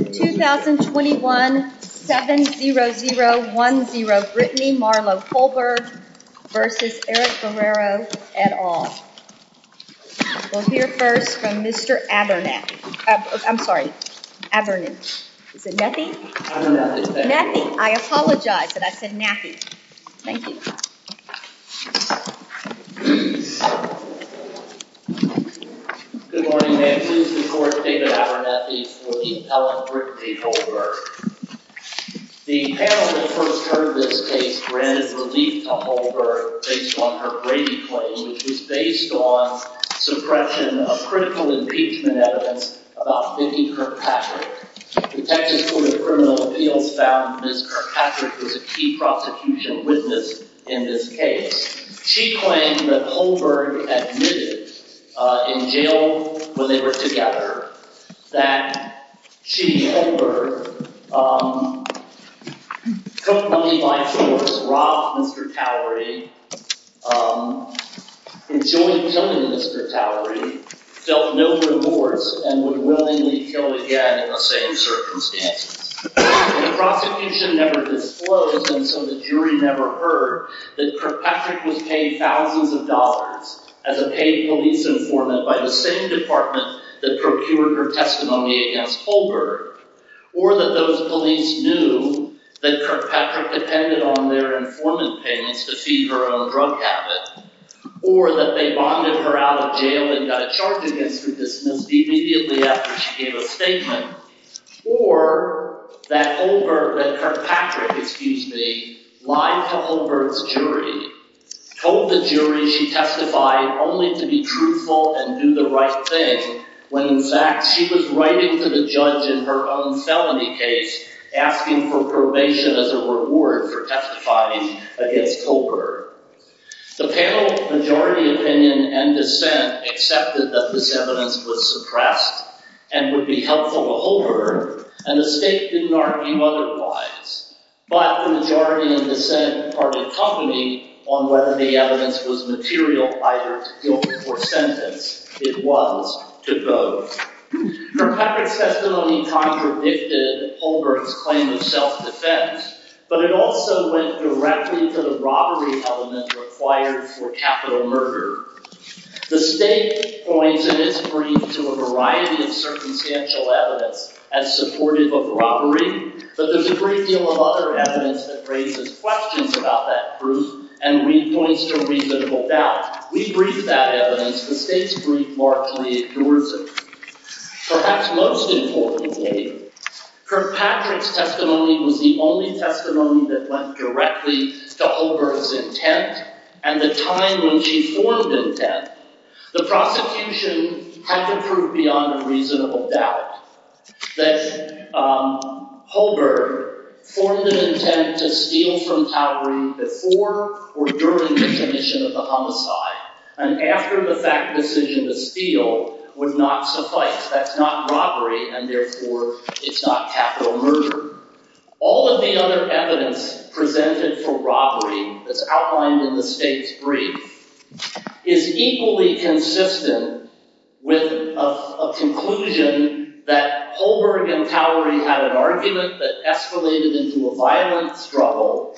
2021 7-0-0-1-0 Brittany Marlow Colberg v. Eric Guerrero et al. We'll hear first from Mr. Abernathy. I'm sorry, Abernathy. Is it Nathy? Nathy, I apologize, but I said Nathy. Thank you. Good morning, thank you. The court stated Abernathy will be telling Brittany Holberg. The panel, of course, heard this case granted relief to Holberg based on her Brady claim, which is based on suppression of critical impeachment evidence about Vivian Kirkpatrick. The Texas Court of Criminal Appeals found Ms. Kirkpatrick was a key prosecution witness in this case. She claimed that Holberg admitted in jail when they were together that she, Holberg, took money by force, robbed Mr. Talberti, enjoined some of Mr. Talberti, dealt no remorse, and was willingly killed again in the same circumstances. The prosecution never disclosed, and so the jury never heard, that Kirkpatrick was paid thousands of dollars as a paid police informant by the same department that procured her testimony against Holberg, or that those police knew that Kirkpatrick depended on their informant payments to feed her own drug habit, or that they bonded her out of jail and got a charge against her just immediately after she gave a statement, or that Holberg, that Kirkpatrick, excuse me, lied to Holberg's jury, told the jury she testified only to be truthful and do the right thing, when in fact she was writing to the judge in her own felony case asking for probation as a reward for testifying against Holberg. The panel's majority opinion and dissent accepted that this evidence was suppressed and would be helpful to Holberg, and the state did not view otherwise. But the majority in dissent were to talk to me on whether the evidence was material either to guilt or sentence. It was to both. Kirkpatrick's testimony contradicted Holberg's claim of self-defense, but it also went directly to the robbery element required for capital murder. The state points at its briefs to a variety of circumstantial evidence as supportive of robbery, but there's a great deal of other evidence that raises questions about that proof and re-points to reasonable doubt. We briefed that evidence, but state's brief largely ignores it. Perhaps most importantly, Kirkpatrick's testimony was the only testimony that went directly to Holberg's intent, and the time when she formed the intent. The prosecution had to prove beyond a reasonable doubt that Holberg formed an intent to steal from Towers before or during the commission of the homicide, and after the fact decision to steal would not suffice. That's not robbery, and therefore it's not capital murder. All of the other evidence presented for robbery that's outlined in the state's brief is equally consistent with a conclusion that Holberg and Towery had an argument that escalated into a violent struggle,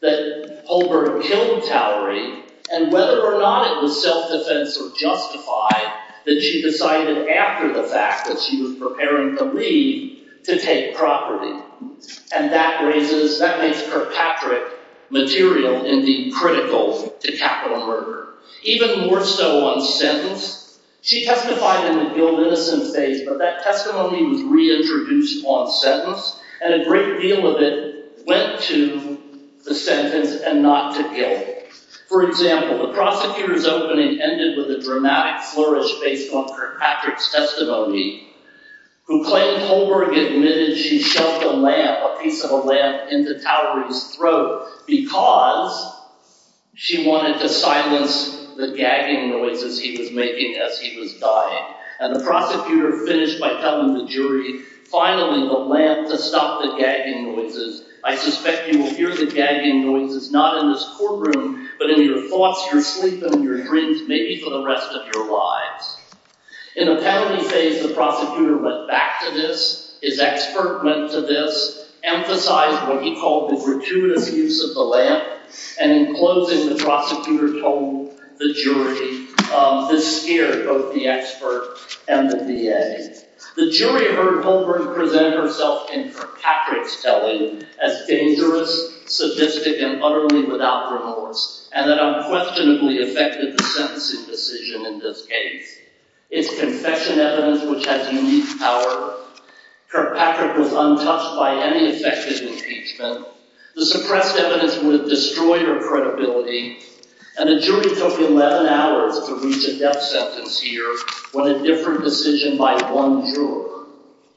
that Holberg killed Towery, and whether or not the self-defense was justified, that she decided after the fact that she was preparing to leave to take property, and that makes Kirkpatrick material, indeed critical, to capital murder. Even more so on the sentence. She testified in the guilt-innocent phase, but that testimony was reintroduced on sentence, and a great deal of it went to the sentence and not to Gale. For example, the prosecutor's opening ended with a dramatic flourish based on Kirkpatrick's testimony, who claims Holberg admitted she shoved a piece of a lamp into Towery's throat because she wanted to silence the gagging noises he was making as he was dying, and the prosecutor finished by telling the jury, Finally, the lamp has stopped the gagging noises. I suspect you will hear the gagging noises not in this courtroom, but in your thoughts, your sleep, and your dreams, maybe for the rest of your lives. In the penalty phase, the prosecutor went back to this. His expert went to this, emphasized what he called the gratuitous use of the lamp, and in closing, the prosecutor told the jury this here, both the expert and the DA. The jury heard Holberg present herself in Kirkpatrick's telling as dangerous, sadistic, and utterly without remorse, and it unquestionably affected the sentencing decision in this case. It's confession evidence which has unique power. Kirkpatrick was untouched by any effective impeachment. The suppressed evidence would have destroyed her credibility, and the jury took 11 hours to reach a death sentence here when a different decision by one juror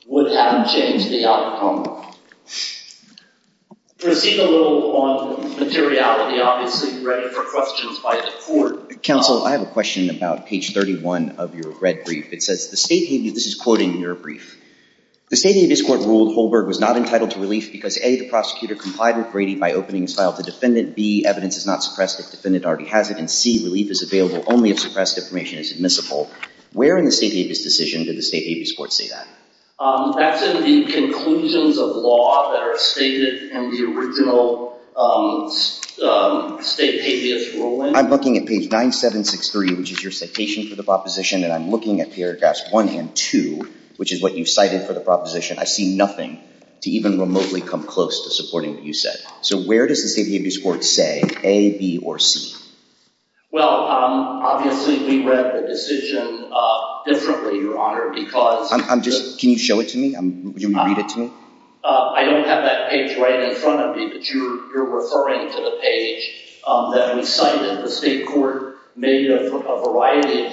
would have changed the outcome. To repeat a little on materiality, obviously you're ready for questions by this court. Counsel, I have a question about page 31 of your red brief. It says, this is quoting your brief. The state of this court ruled Holberg was not entitled to relief because A, the prosecutor complied with Brady by opening his file to defendant. B, evidence is not suppressed if defendant already has it, and C, relief is available only if suppressed information is admissible. Where in the state of this decision did the state of this court say that? That's in the conclusions of law that are stated in the original state of this ruling. I'm looking at page 9763, which is your citation for the proposition, and I'm looking at paragraphs 1 and 2, which is what you cited for the proposition. I see nothing to even remotely come close to supporting what you said. So where does the state of this court say, A, B, or C? Well, obviously we read the decision differently, Your Honor, because— Can you show it to me? Can you read it to me? I don't have that page right in front of me, but you're referring to the page that we cited. The state court made a variety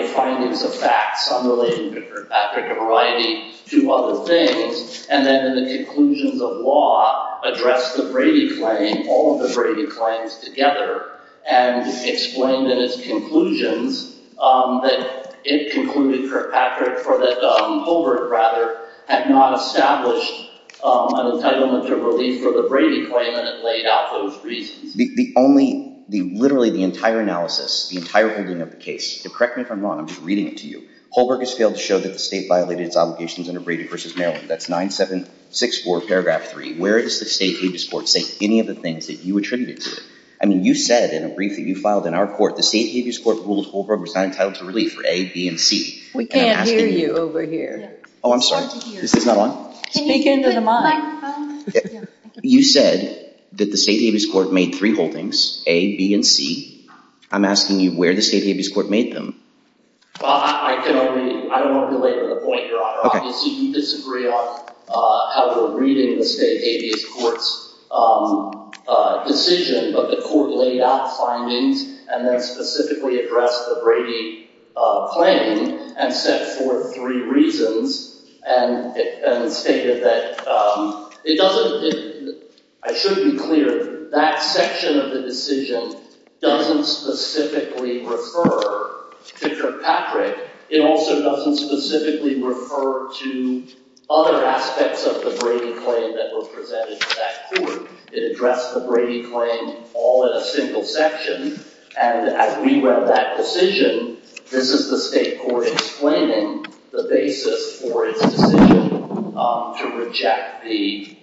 of findings of facts on relating different aspects of variety to other things, and then in the conclusions of law addressed the Brady claim, all of the Brady claims together, and explained in its conclusions that it concluded that Patrick, or that Don Colbert, rather, had not established an entitlement to relief for the Brady claim and had laid out those reasons. The only—literally the entire analysis, the entire reasoning of the case— correct me if I'm wrong, I'm just reading it to you— Colbert has failed to show that the state violated its obligations under Brady v. Maryland. That's 9764, paragraph 3. Where does the state habeas court say any of the things that you attributed to it? I mean, you said in a briefing you filed in our court the state habeas court rules Colbert was not entitled to relief for A, B, and C. We can't hear you over here. Oh, I'm sorry. Is this not on? Can you get into the mic? You said that the state habeas court made three holdings, A, B, and C. I'm asking you where the state habeas court made them. Well, I can only—I don't want to delay the point here. I obviously disagree on how we're reading the state habeas court's decision of the court laid out the findings and then specifically addressed the Brady claim and set forth three reasons and stated that it doesn't— I should be clear that that section of the decision doesn't specifically refer to Kirkpatrick. It also doesn't specifically refer to other aspects of the Brady claim that was presented to that court. It addressed the Brady claim all in a single section, and as we read that decision, this is the state court explaining the basis for its decision to reject the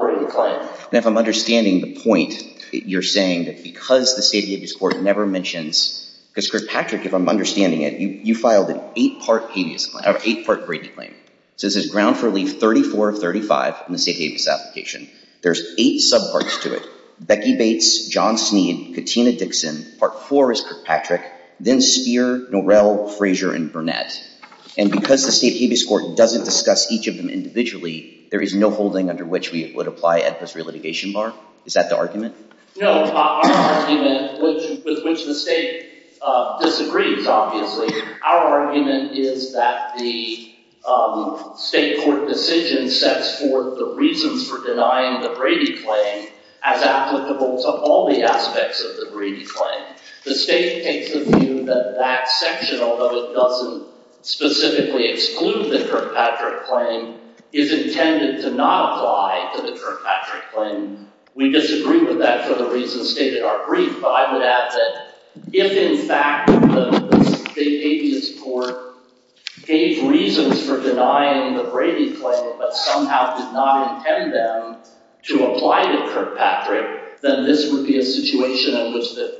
Brady claim. Now, if I'm understanding the point, you're saying that because the state habeas court never mentions— because Kirkpatrick, if I'm understanding it, you filed an eight-part Brady claim. So this is grounds for relief 34 of 35 in the state habeas application. There's eight subparts to it. Becky Bates, John Sneed, Katina Dixon, Part IV is Kirkpatrick, then Speer, Norell, Frazier, and Burnett. And because the state habeas court doesn't discuss each of them individually, there is no holding under which we would apply ethnos for a litigation bar. Is that the argument? No. Our argument, which the state disagrees, obviously, our argument is that the state court decision sets forth the reasons for denying the Brady claim as applicable to all the aspects of the Brady claim. The state can convene that that section, although it doesn't specifically exclude the Kirkpatrick claim, is intended to not apply to the Kirkpatrick claim. We disagree with that for the reasons stated in our brief, but I would add that if, in fact, the state habeas court gave reasons for denying the Brady claim but somehow did not intend them to apply to Kirkpatrick, then this would be a situation in which the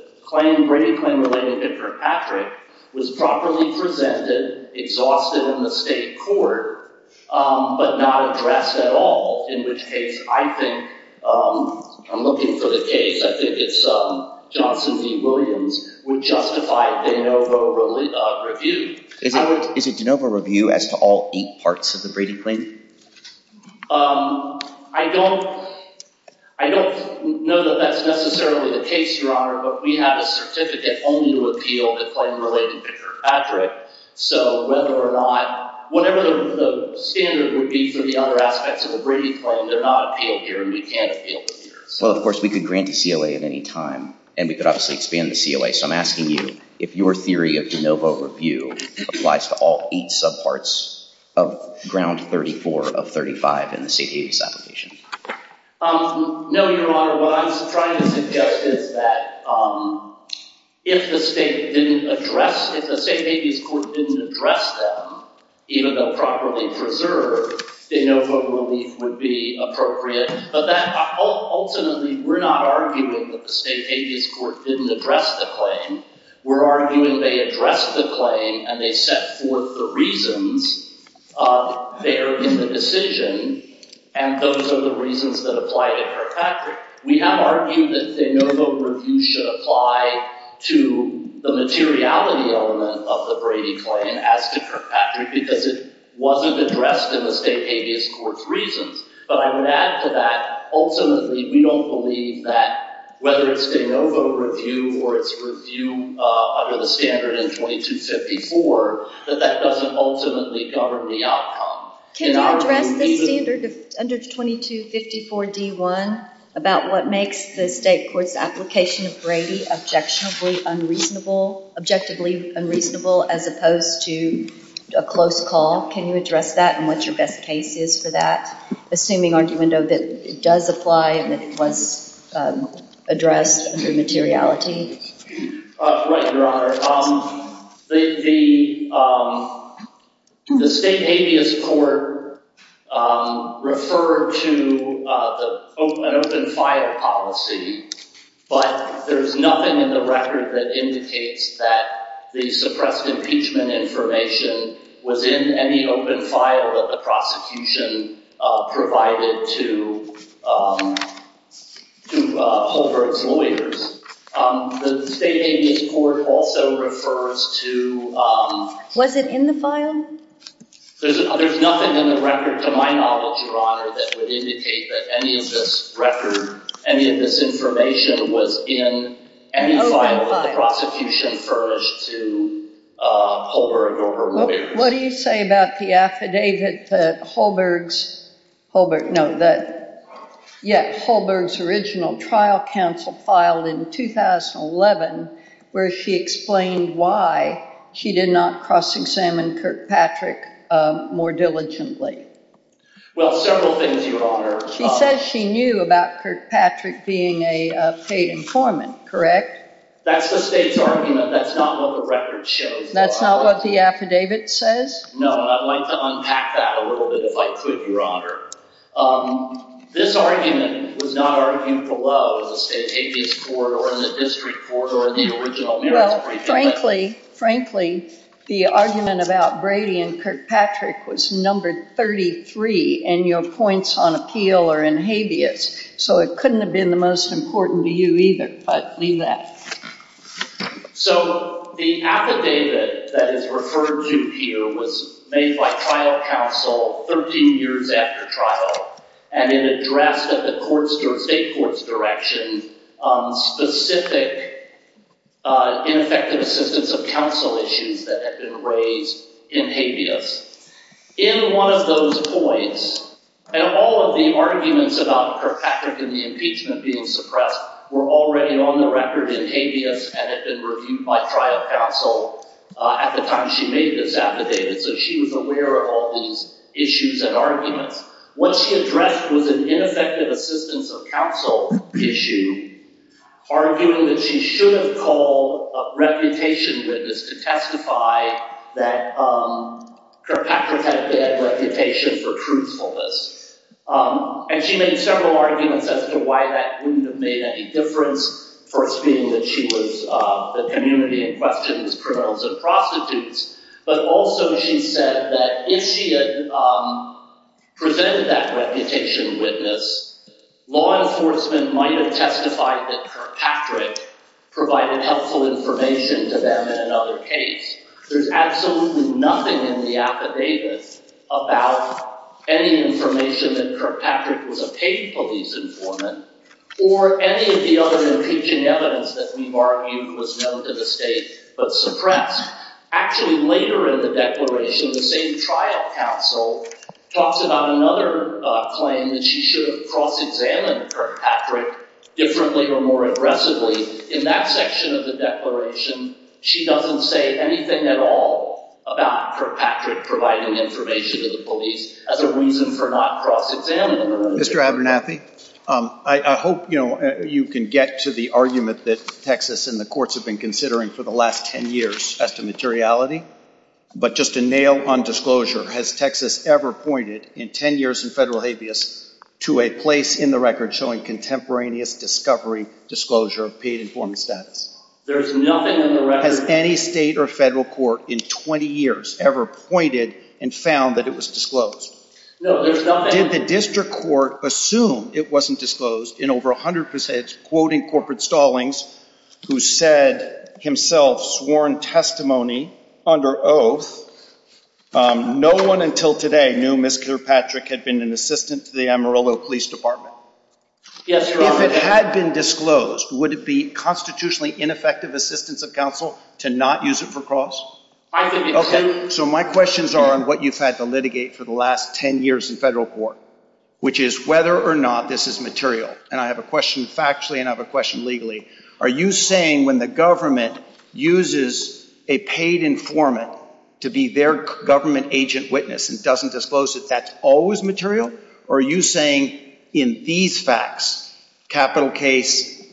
Brady claim related to Kirkpatrick was properly presented, exhausted in the state court, but not addressed at all in this case. I'm looking for the case, I think it's Johnson v. Williams, who justified De Novo Review. Is it De Novo Review as to all eight parts of the Brady claim? I don't know that that's necessarily the case, Your Honor, but we have a certificate only to appeal the claim related to Kirkpatrick. So whether or not – whatever the standard would be for the other aspects of the Brady claim did not appeal here, we can't appeal here. Well, of course, we could grant the COA at any time, and we could obviously expand the COA. So I'm asking you if your theory of De Novo Review applies to all eight subparts of Ground 34 of 35 in the state habeas application. No, Your Honor, what I'm trying to suggest is that if the state didn't address – if the state habeas court didn't address them, even though properly preserved, De Novo would be appropriate. Ultimately, we're not arguing that the state habeas court didn't address the claim. We're arguing they addressed the claim and they set forth the reasons there in the decision, and those are the reasons that apply to Kirkpatrick. We have argued that De Novo Review should apply to the materiality element of the Brady claim as to Kirkpatrick because it wasn't addressed in the state habeas court's reasons. But I would add to that, ultimately, we don't believe that whether it's De Novo Review or it's review under the standard in 2254, that that doesn't ultimately cover the outcome. Can you address the standard under 2254 D1 about what makes the state court's application of Brady objectively unreasonable as opposed to a close cause? Can you address that and what your best case is for that? Assuming, aren't you going to note that it does apply and it wasn't addressed under materiality? Right, Your Honor. The state habeas court referred to an open fire policy, but there's nothing in the record that indicates that the suppressed impeachment information was in any open file that the prosecution provided to Hulbert's lawyers. The state habeas court also refers to- Was it in the file? There's nothing in the record to my knowledge, Your Honor, that would indicate that any of this record, any of this information was in any file that the prosecution furnished to Hulbert or her lawyers. What do you say about the affidavit that Hulbert's original trial counsel filed in 2011 where she explained why she did not cross-examine Kirkpatrick more diligently? Well, several things, Your Honor. She says she knew about Kirkpatrick being a state informant, correct? That's the state's argument. That's not what the record shows. That's not what the affidavit says? No, and I'd like to unpack that a little bit if I could, Your Honor. This argument was not argued below in the state habeas court or in the district court or in the original- Well, frankly, frankly, the argument about Brady and Kirkpatrick was numbered 33 in your points on appeal or in habeas, so it couldn't have been the most important to you either, but leave that. So the affidavit that is referred to here was made by trial counsel 13 years after trial, and it addressed at the state court's direction specific ineffective assistance of counsel issues that had been raised in habeas. In one of those points, and all of the arguments about Kirkpatrick and the impeachment being suppressed were already on the record in habeas and had been reviewed by trial counsel at the time she made this affidavit, so she was aware of all these issues and arguments. What she addressed was an ineffective assistance of counsel issue, arguing that she shouldn't call a reputation witness to testify that Kirkpatrick had a bad reputation for truthfulness. And she made several arguments as to why that wouldn't have made any difference, first being that she was the community in question's criminals and prostitutes, but also she said that if she had presented that reputation witness, law enforcement might have testified that Kirkpatrick provided helpful information to them in another case. There's absolutely nothing in the affidavit about any information that Kirkpatrick was a paid police informant or any of the other impeachment evidence that we've argued was known to the state but suppressed. Actually, later in the declaration, the state trial counsel talks about another claim that she should have cross-examined Kirkpatrick differently or more aggressively. In that section of the declaration, she doesn't say anything at all about Kirkpatrick providing information to the police as a reason for not cross-examining him. Mr. Abernathy, I hope you can get to the argument that Texas and the courts have been considering for the last 10 years as to materiality. But just a nail on disclosure, has Texas ever pointed in 10 years in federal habeas to a place in the record showing contemporaneous discovery disclosure of paid informant status? There's nothing in the record. Has any state or federal court in 20 years ever pointed and found that it was disclosed? No, there's nothing. Did the district court assume it wasn't disclosed in over 100% quoting corporate stallings who said, himself, sworn testimony under oath. No one until today knew Ms. Kirkpatrick had been an assistant to the Amarillo Police Department. If it had been disclosed, would it be constitutionally ineffective assistance of counsel to not use it for costs? So my questions are on what you've had to litigate for the last 10 years in federal court, which is whether or not this is material. And I have a question factually and I have a question legally. Are you saying when the government uses a paid informant to be their government agent witness and doesn't disclose it, that's always material? Or are you saying in these facts, capital case,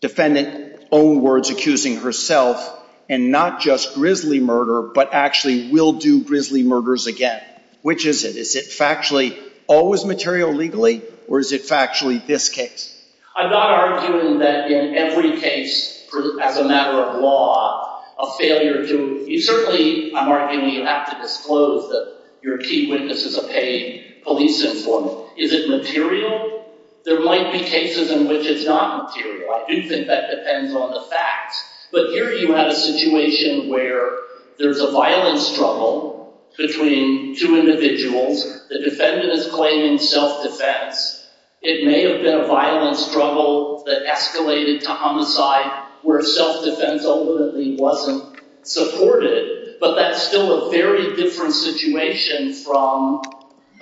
defendant's own words accusing herself and not just grisly murder, but actually will do grisly murders again? Which is it? Is it factually always material legally? Or is it factually this case? I'm not arguing that in every case, as a matter of law, a failure to... Certainly, I'm arguing you have to disclose that your chief witness is a paid police informant. Is it material? There might be cases in which it's not material. I do think that depends on the facts. But here you have a situation where there's a violent struggle between two individuals. The defendant is claiming self-defense. It may have been a violent struggle that escalated to homicide, where self-defense ultimately wasn't supported. But that's still a very different situation from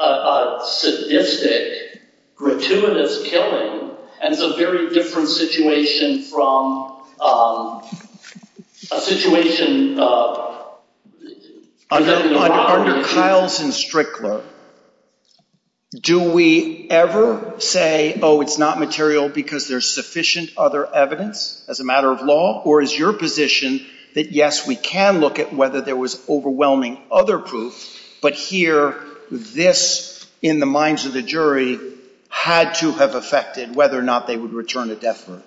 a sadistic, gratuitous killing. And it's a very different situation from a situation... Under trials in Strickler, do we ever say, oh, it's not material because there's sufficient other evidence as a matter of law? Or is your position that, yes, we can look at whether there was overwhelming other proof, but here this, in the minds of the jury, had to have affected whether or not they would return to death row?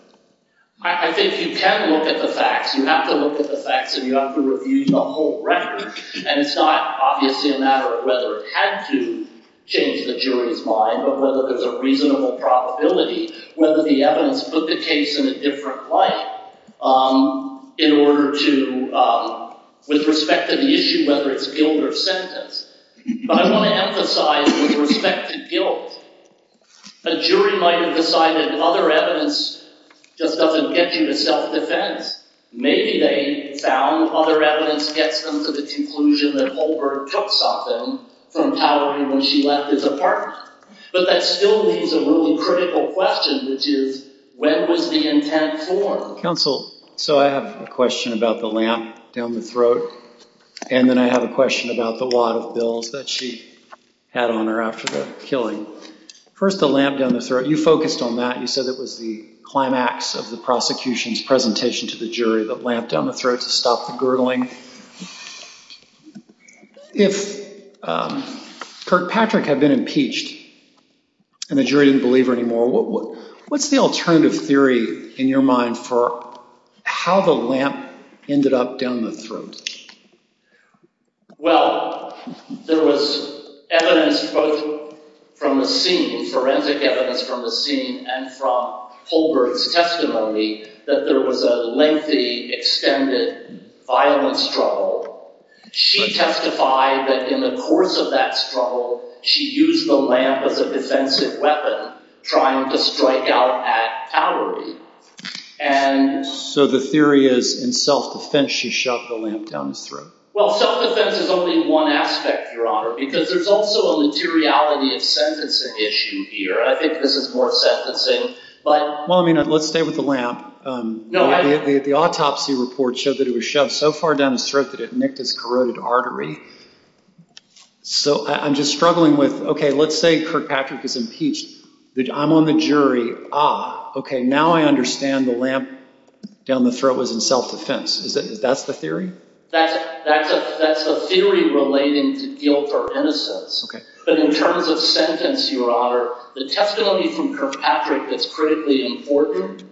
I think you can look at the facts. You have to look at the facts, and you have to review the whole record. And it's not obviously a matter of whether it had to change the jury's mind, but whether there's a reasonable probability, whether the evidence put the case in a different light in order to... with respect to the issue, whether it's guilt or sentence. But I want to emphasize, with respect to guilt, a jury might have decided that other evidence just doesn't get you to self-defense. Maybe they found other evidence to get them to the conclusion that Mulberg took something from Tallery when she left his apartment. But that still leaves a little critical question, which is, when was the intent formed? So I have a question about the lamp down the throat, and then I have a question about the lot of bills that she had on her after the killing. First, the lamp down the throat. You focused on that. You said it was the climax of the prosecution's presentation to the jury, the lamp down the throat to stop the girdling. If Kirkpatrick had been impeached and the jury didn't believe her anymore, what's the alternative theory in your mind for how the lamp ended up down the throat? Well, there was evidence, quote, from the scene, forensic evidence from the scene, and from Holberg's testimony, that there was a lengthy, extended violence struggle. She testified that in the course of that struggle, she used the lamp as a defensive weapon, trying to strike out at Tallery. So the theory is, in self-defense, she shoved the lamp down his throat. Well, self-defense is only one aspect, Your Honor, because there's also a materiality and sentencing issue here. I think this is more sentencing, but... Well, I mean, let's stay with the lamp. The autopsy report showed that it was shoved so far down his throat that it nicked his corroded artery. So I'm just struggling with... Okay, let's say Kirkpatrick is impeached. I'm on the jury. Ah, okay, now I understand the lamp down the throat was in self-defense. Is that the theory? That's a theory relating to guilt for innocence. But in terms of sentence, Your Honor, the testimony from Kirkpatrick that's critically important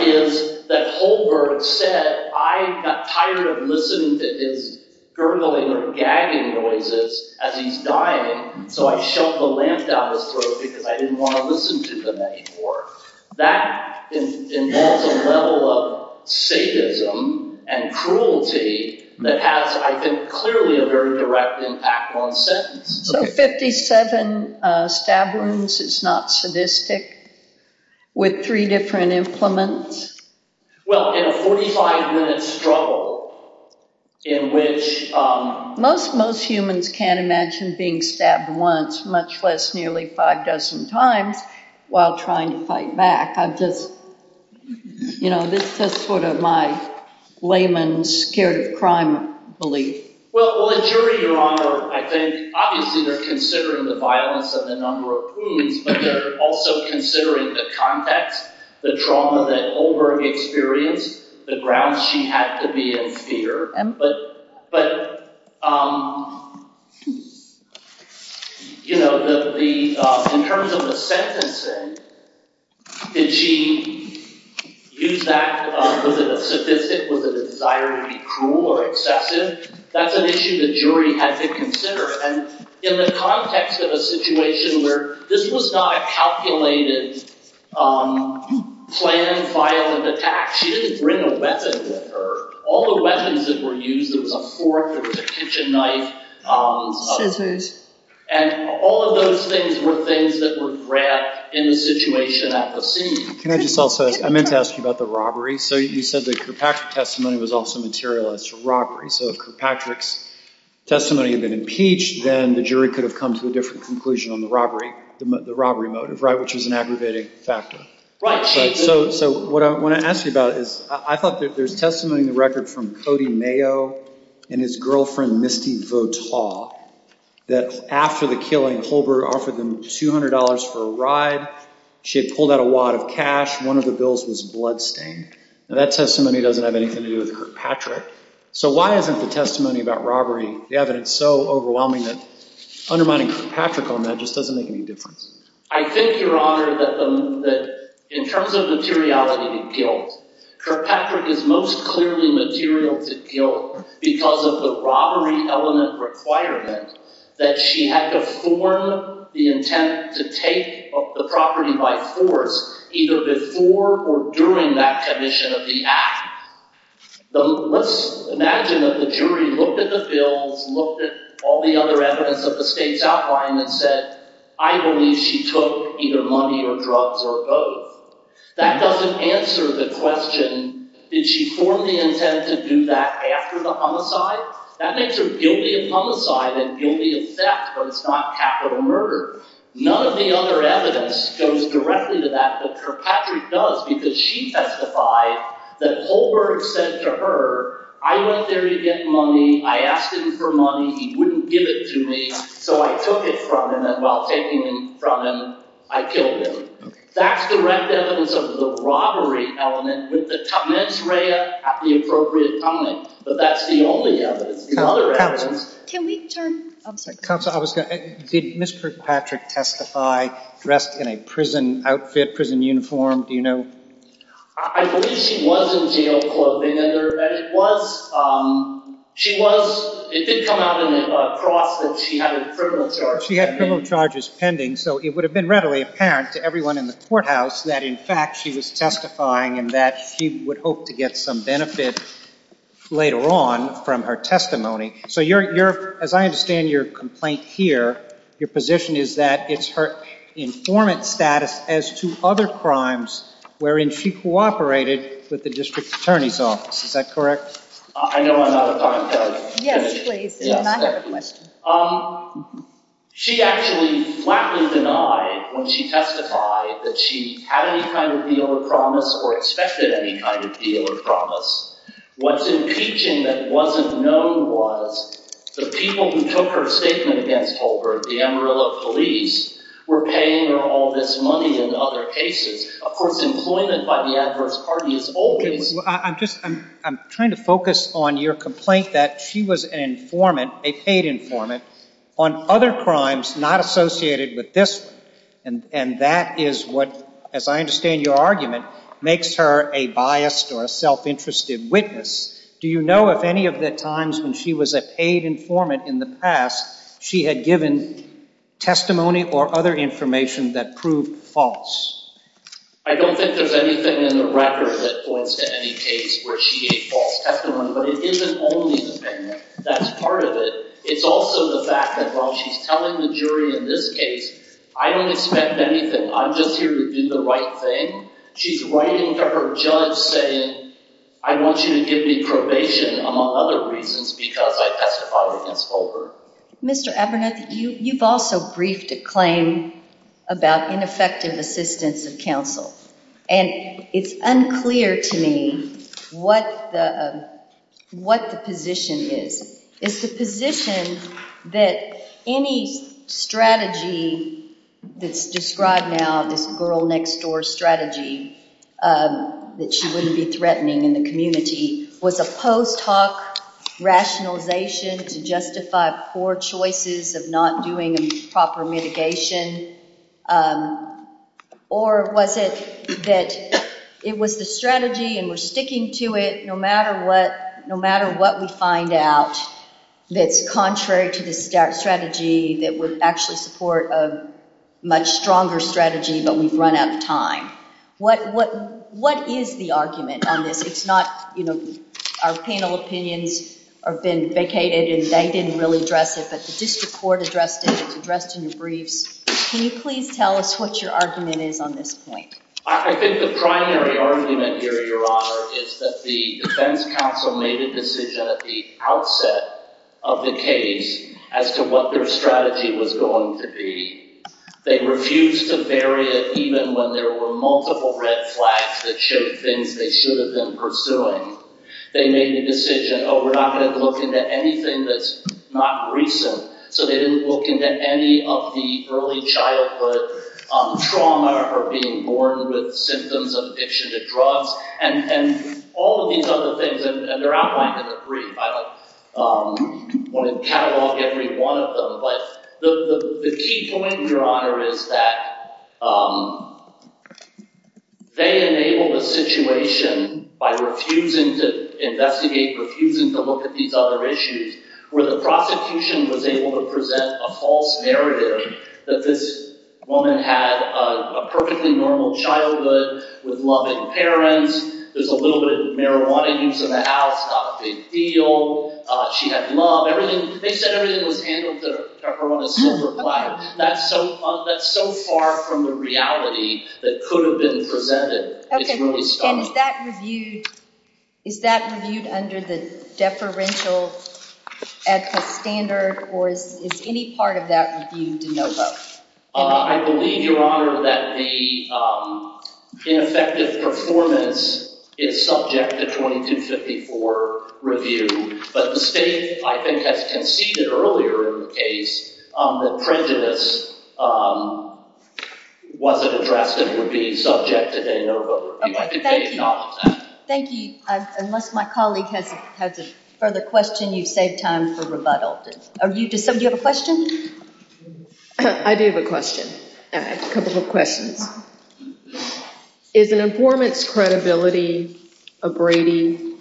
is that Holberg said, I got tired of listening to his gurgling or gagging noises as he's dying, so I shoved the lamp down his throat because I didn't want to listen to them anymore. That, in that level of satanism and cruelty, that has, I think, clearly a very direct impact on sentence. So 57 stab wounds is not sadistic with three different implements? Well, in a 45-minute struggle in which... Most humans can't imagine being stabbed once, much less nearly five dozen times, while trying to fight back. I've just, you know, this is sort of my layman's scary crime belief. Well, the jury, Your Honor, I think, obviously they're considering the violence and the number of wounds, but they're also considering the context, the trauma that Holberg experienced, the grounds she had to be in here. But, you know, in terms of the sentencing, did she use that as a statistic with a desire to be cruel or deceptive? That's an issue the jury had to consider. And in the context of a situation where this was not a calculated planned violent attack, she didn't bring a weapon with her. All the weapons that were used was a fork or a kitchen knife. And all of those things were things that were grabbed in the situation at the scene. Can I just also, I meant to ask you about the robbery. So you said that Kirkpatrick's testimony was also materialized for robbery. So if Kirkpatrick's testimony had been impeached, then the jury could have come to a different conclusion on the robbery motive, which is an aggravating factor. So what I want to ask you about is, I thought that there's testimony in the record from Cody Mayo and his girlfriend Misty Votaw that after the killing, Holberg offered them $200 for a ride. She had pulled out a wad of cash. One of the bills was bloodstained. Now, that testimony doesn't have anything to do with Kirkpatrick. So why isn't the testimony about robbery evidence so overwhelming that undermining Kirkpatrick on that just doesn't make any difference? I think, Your Honor, that in terms of materiality of the kill, Kirkpatrick is most clearly material to kill because of the robbery element requirement that she had to form the intent to take the property by force either before or during that commission of the act. Let's imagine that the jury looked at the bill, looked at all the other evidence of the state's outline and said, I believe she took either money or drugs or both. That doesn't answer the question, did she form the intent to do that after the homicide? That makes her gangeant homicide and gangeant theft, but it's not capital murder. None of the other evidence goes directly to that, but Kirkpatrick does because she testified that Holberg said to her, I went there to get money, I asked him for money, he wouldn't give it to me, so I took it from him, and while taking it from him, I killed him. That's the right evidence of the robbery element, but the comments read at the appropriate time, but that's the only evidence. Counsel, did Ms. Kirkpatrick testify dressed in a prison outfit, prison uniform? Do you know? I believe she was in jail clothing, and it was. She was, it did come out that she had a criminal charge. She had criminal charges pending, so it would have been readily apparent to everyone in the courthouse that in fact she was testifying and that she would hope to get some benefit later on from her testimony. So as I understand your complaint here, your position is that it's her informant status as to other crimes wherein she cooperated with the district attorney's office. Is that correct? I know I'm out of context. Yes, please. She actually flatly denied when she testified that she had any kind of deal of promise or expected any kind of deal of promise. What's impeaching that wasn't known was the people who took her statement against Holbrook, the Amarillo police, were paying her all this money in other cases. Of course, employment by the adverse party is always... I'm trying to focus on your complaint that she was an informant, a paid informant, on other crimes not associated with this one, and that is what, as I understand your argument, makes her a biased or a self-interested witness. Do you know of any of the times when she was a paid informant in the past she had given testimony or other information that proved false? I don't think there's anything in the record that points to any case where she gave false testimony, but it isn't only the thing that's part of it. It's also the fact that while she's telling the jury in this case, I don't expect anything. I'm just here to do the right thing. She's writing to her judge saying, I want you to give me probation, among other reasons, because I testified against Holbrook. Mr. Abernathy, you've also briefed a claim about ineffective assistance of counsel, and it's unclear to me what the position is. It's the position that any strategy that's described now, this girl-next-door strategy that she wouldn't be threatening in the community, was a post-talk rationalization to justify poor choices of not doing proper mitigation, or was it that it was the strategy, and we're sticking to it, no matter what we find out, that's contrary to the strategy that was actually support of a much stronger strategy, but we've run out of time. What is the argument? It's not, you know, our penal opinions have been vacated, and they didn't really address it, but did the court address it in the briefs? Can you please tell us what your argument is on this point? I think the primary argument here, Your Honor, is that the defense counsel made a decision at the outset of the case as to what their strategy was going to be. They refused to vary it, even when there were multiple red flags that showed things they should have been pursuing. They made the decision, oh, we're not going to look into anything that's not recent, so they didn't look into any of the early childhood trauma or being born with symptoms of addiction to drugs, and all of these other things, and they're outlined in the brief. I don't want to catalog every one of them, but the key point here, Your Honor, is that they enabled the situation by refusing to investigate, refusing to look at these other issues, where the prosecution was able to present a false narrative that this woman had a perfectly normal childhood, was in love with her parents, was a little bit of marijuana use in the house, got a big feel, she had love. They said everything was handled with a pepper on a silver platter. That's so far from the reality that could have been presented. Okay, and is that reviewed under the deferential ethics standard, or is any part of that reviewed? No, sir. I believe, Your Honor, that the ineffective performance is subject to 2254 review, but the state, I think, has conceded earlier in the case that prejudice wasn't addressed as a review subject. Thank you. Thank you. Unless my colleague has a further question, you've saved time for rebuttals. Does somebody have a question? I do have a question. I have a question. Is an informant's credibility a grating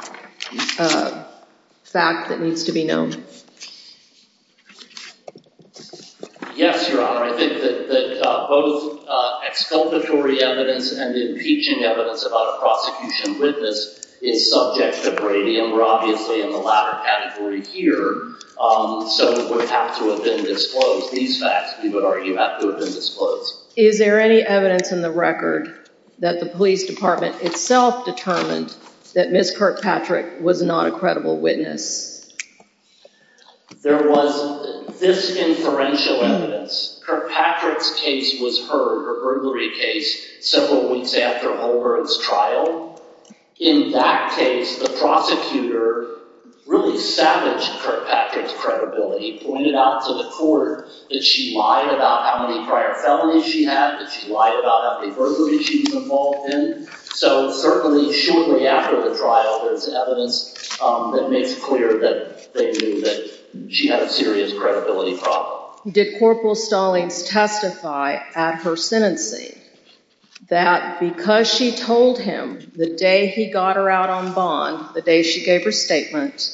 fact that needs to be known? Yes, Your Honor, I think that both exculpatory evidence and the impeaching evidence about a prosecution witness is subject to grading, and we're obviously in the latter category here, so it would have to have been disclosed. These facts, we would argue, have to have been disclosed. Is there any evidence in the record that the police department itself determined that Ms. Kirkpatrick was not a credible witness? There was this inferential evidence. Kirkpatrick's case was her, her burglary case, several weeks after Holbrook's trial. In that case, the prosecutor really salvaged Kirkpatrick's credibility, pointed out to the court that she lied about how many prior felonies she had, that she lied about how many burglaries she was involved in. So certainly, shortly after the trial, there's evidence that makes clear that she had a serious credibility problem. Did Corporal Stallings testify at her sentencing that because she told him the day he got her out on bond, the day she gave her statement,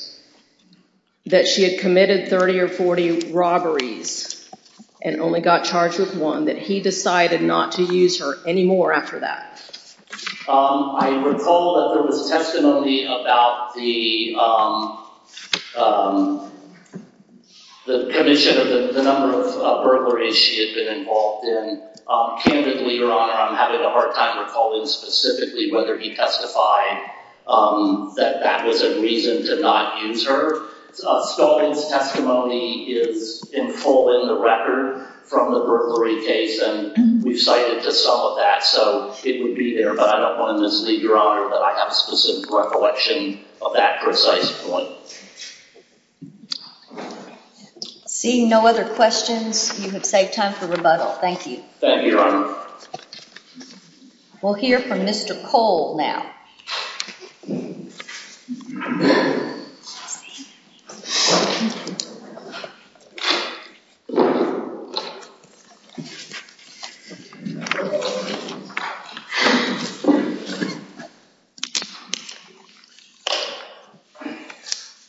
that she had committed 30 or 40 robberies and only got charged with one, that he decided not to use her anymore after that? I recall that there was testimony about the commission, the number of burglaries she had been involved in. Candidly, Your Honor, I'm having a hard time recalling specifically whether he testified that that was a reason to not use her. Corporal Stallings' testimony is in full in the record from the burglary case, and we cited just some of that. So it would be, Your Honor, that I have a specific recollection of that precise point. Seeing no other questions, you have saved time for rebuttal. Thank you. Thank you, Your Honor. We'll hear from Mr. Cole now. Thank you, Your Honor.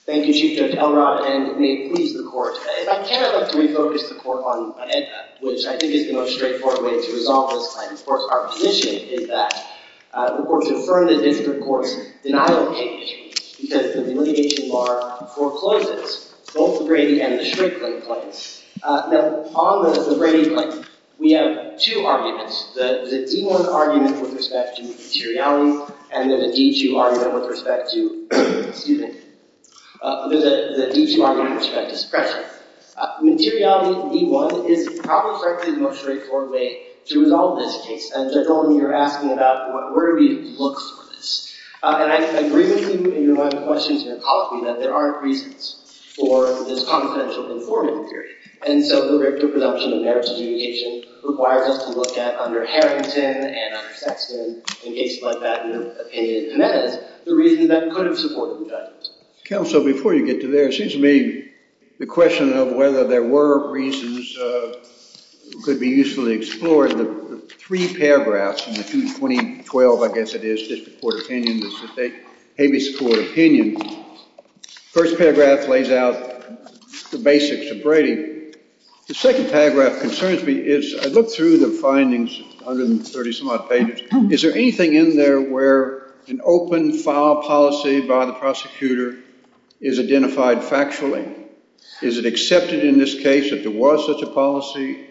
Thank you, Chief Justice Elgar, and may it please the Court, if I can, I'd like to refocus the Court on Edna, which I think is the most straightforward way to resolve this crime. Of course, our position is that the Court should affirm that this report is denial of case because the litigation law forecloses both the gravy and the strength claims. Now, on the gravy claim, we have two arguments, the D-1 argument with respect to materiality and the D-2 argument with respect to expression. Materiality, D-1, is the most straightforward way to resolve this case. General, when you're asking about where we look for this, I agree with you in your other questions, Your Honor, that there are reasons for this confidential reporting period. And so, the reproduction and merits communication requires us to look at underheritance, and undersexed, and engaged by patent opinion, and then the reasons that could have supported that. Counsel, before you get to that, excuse me, the question of whether there were reasons that could be usefully explored, there are three paragraphs in the 2012, I guess it is, Habeas Court Opinion. The first paragraph lays out the basics of grading. The second paragraph concerns me. I looked through the findings, 130-some-odd pages. Is there anything in there where an open file policy by the prosecutor is identified factually? Is it accepted in this case that there was such a policy?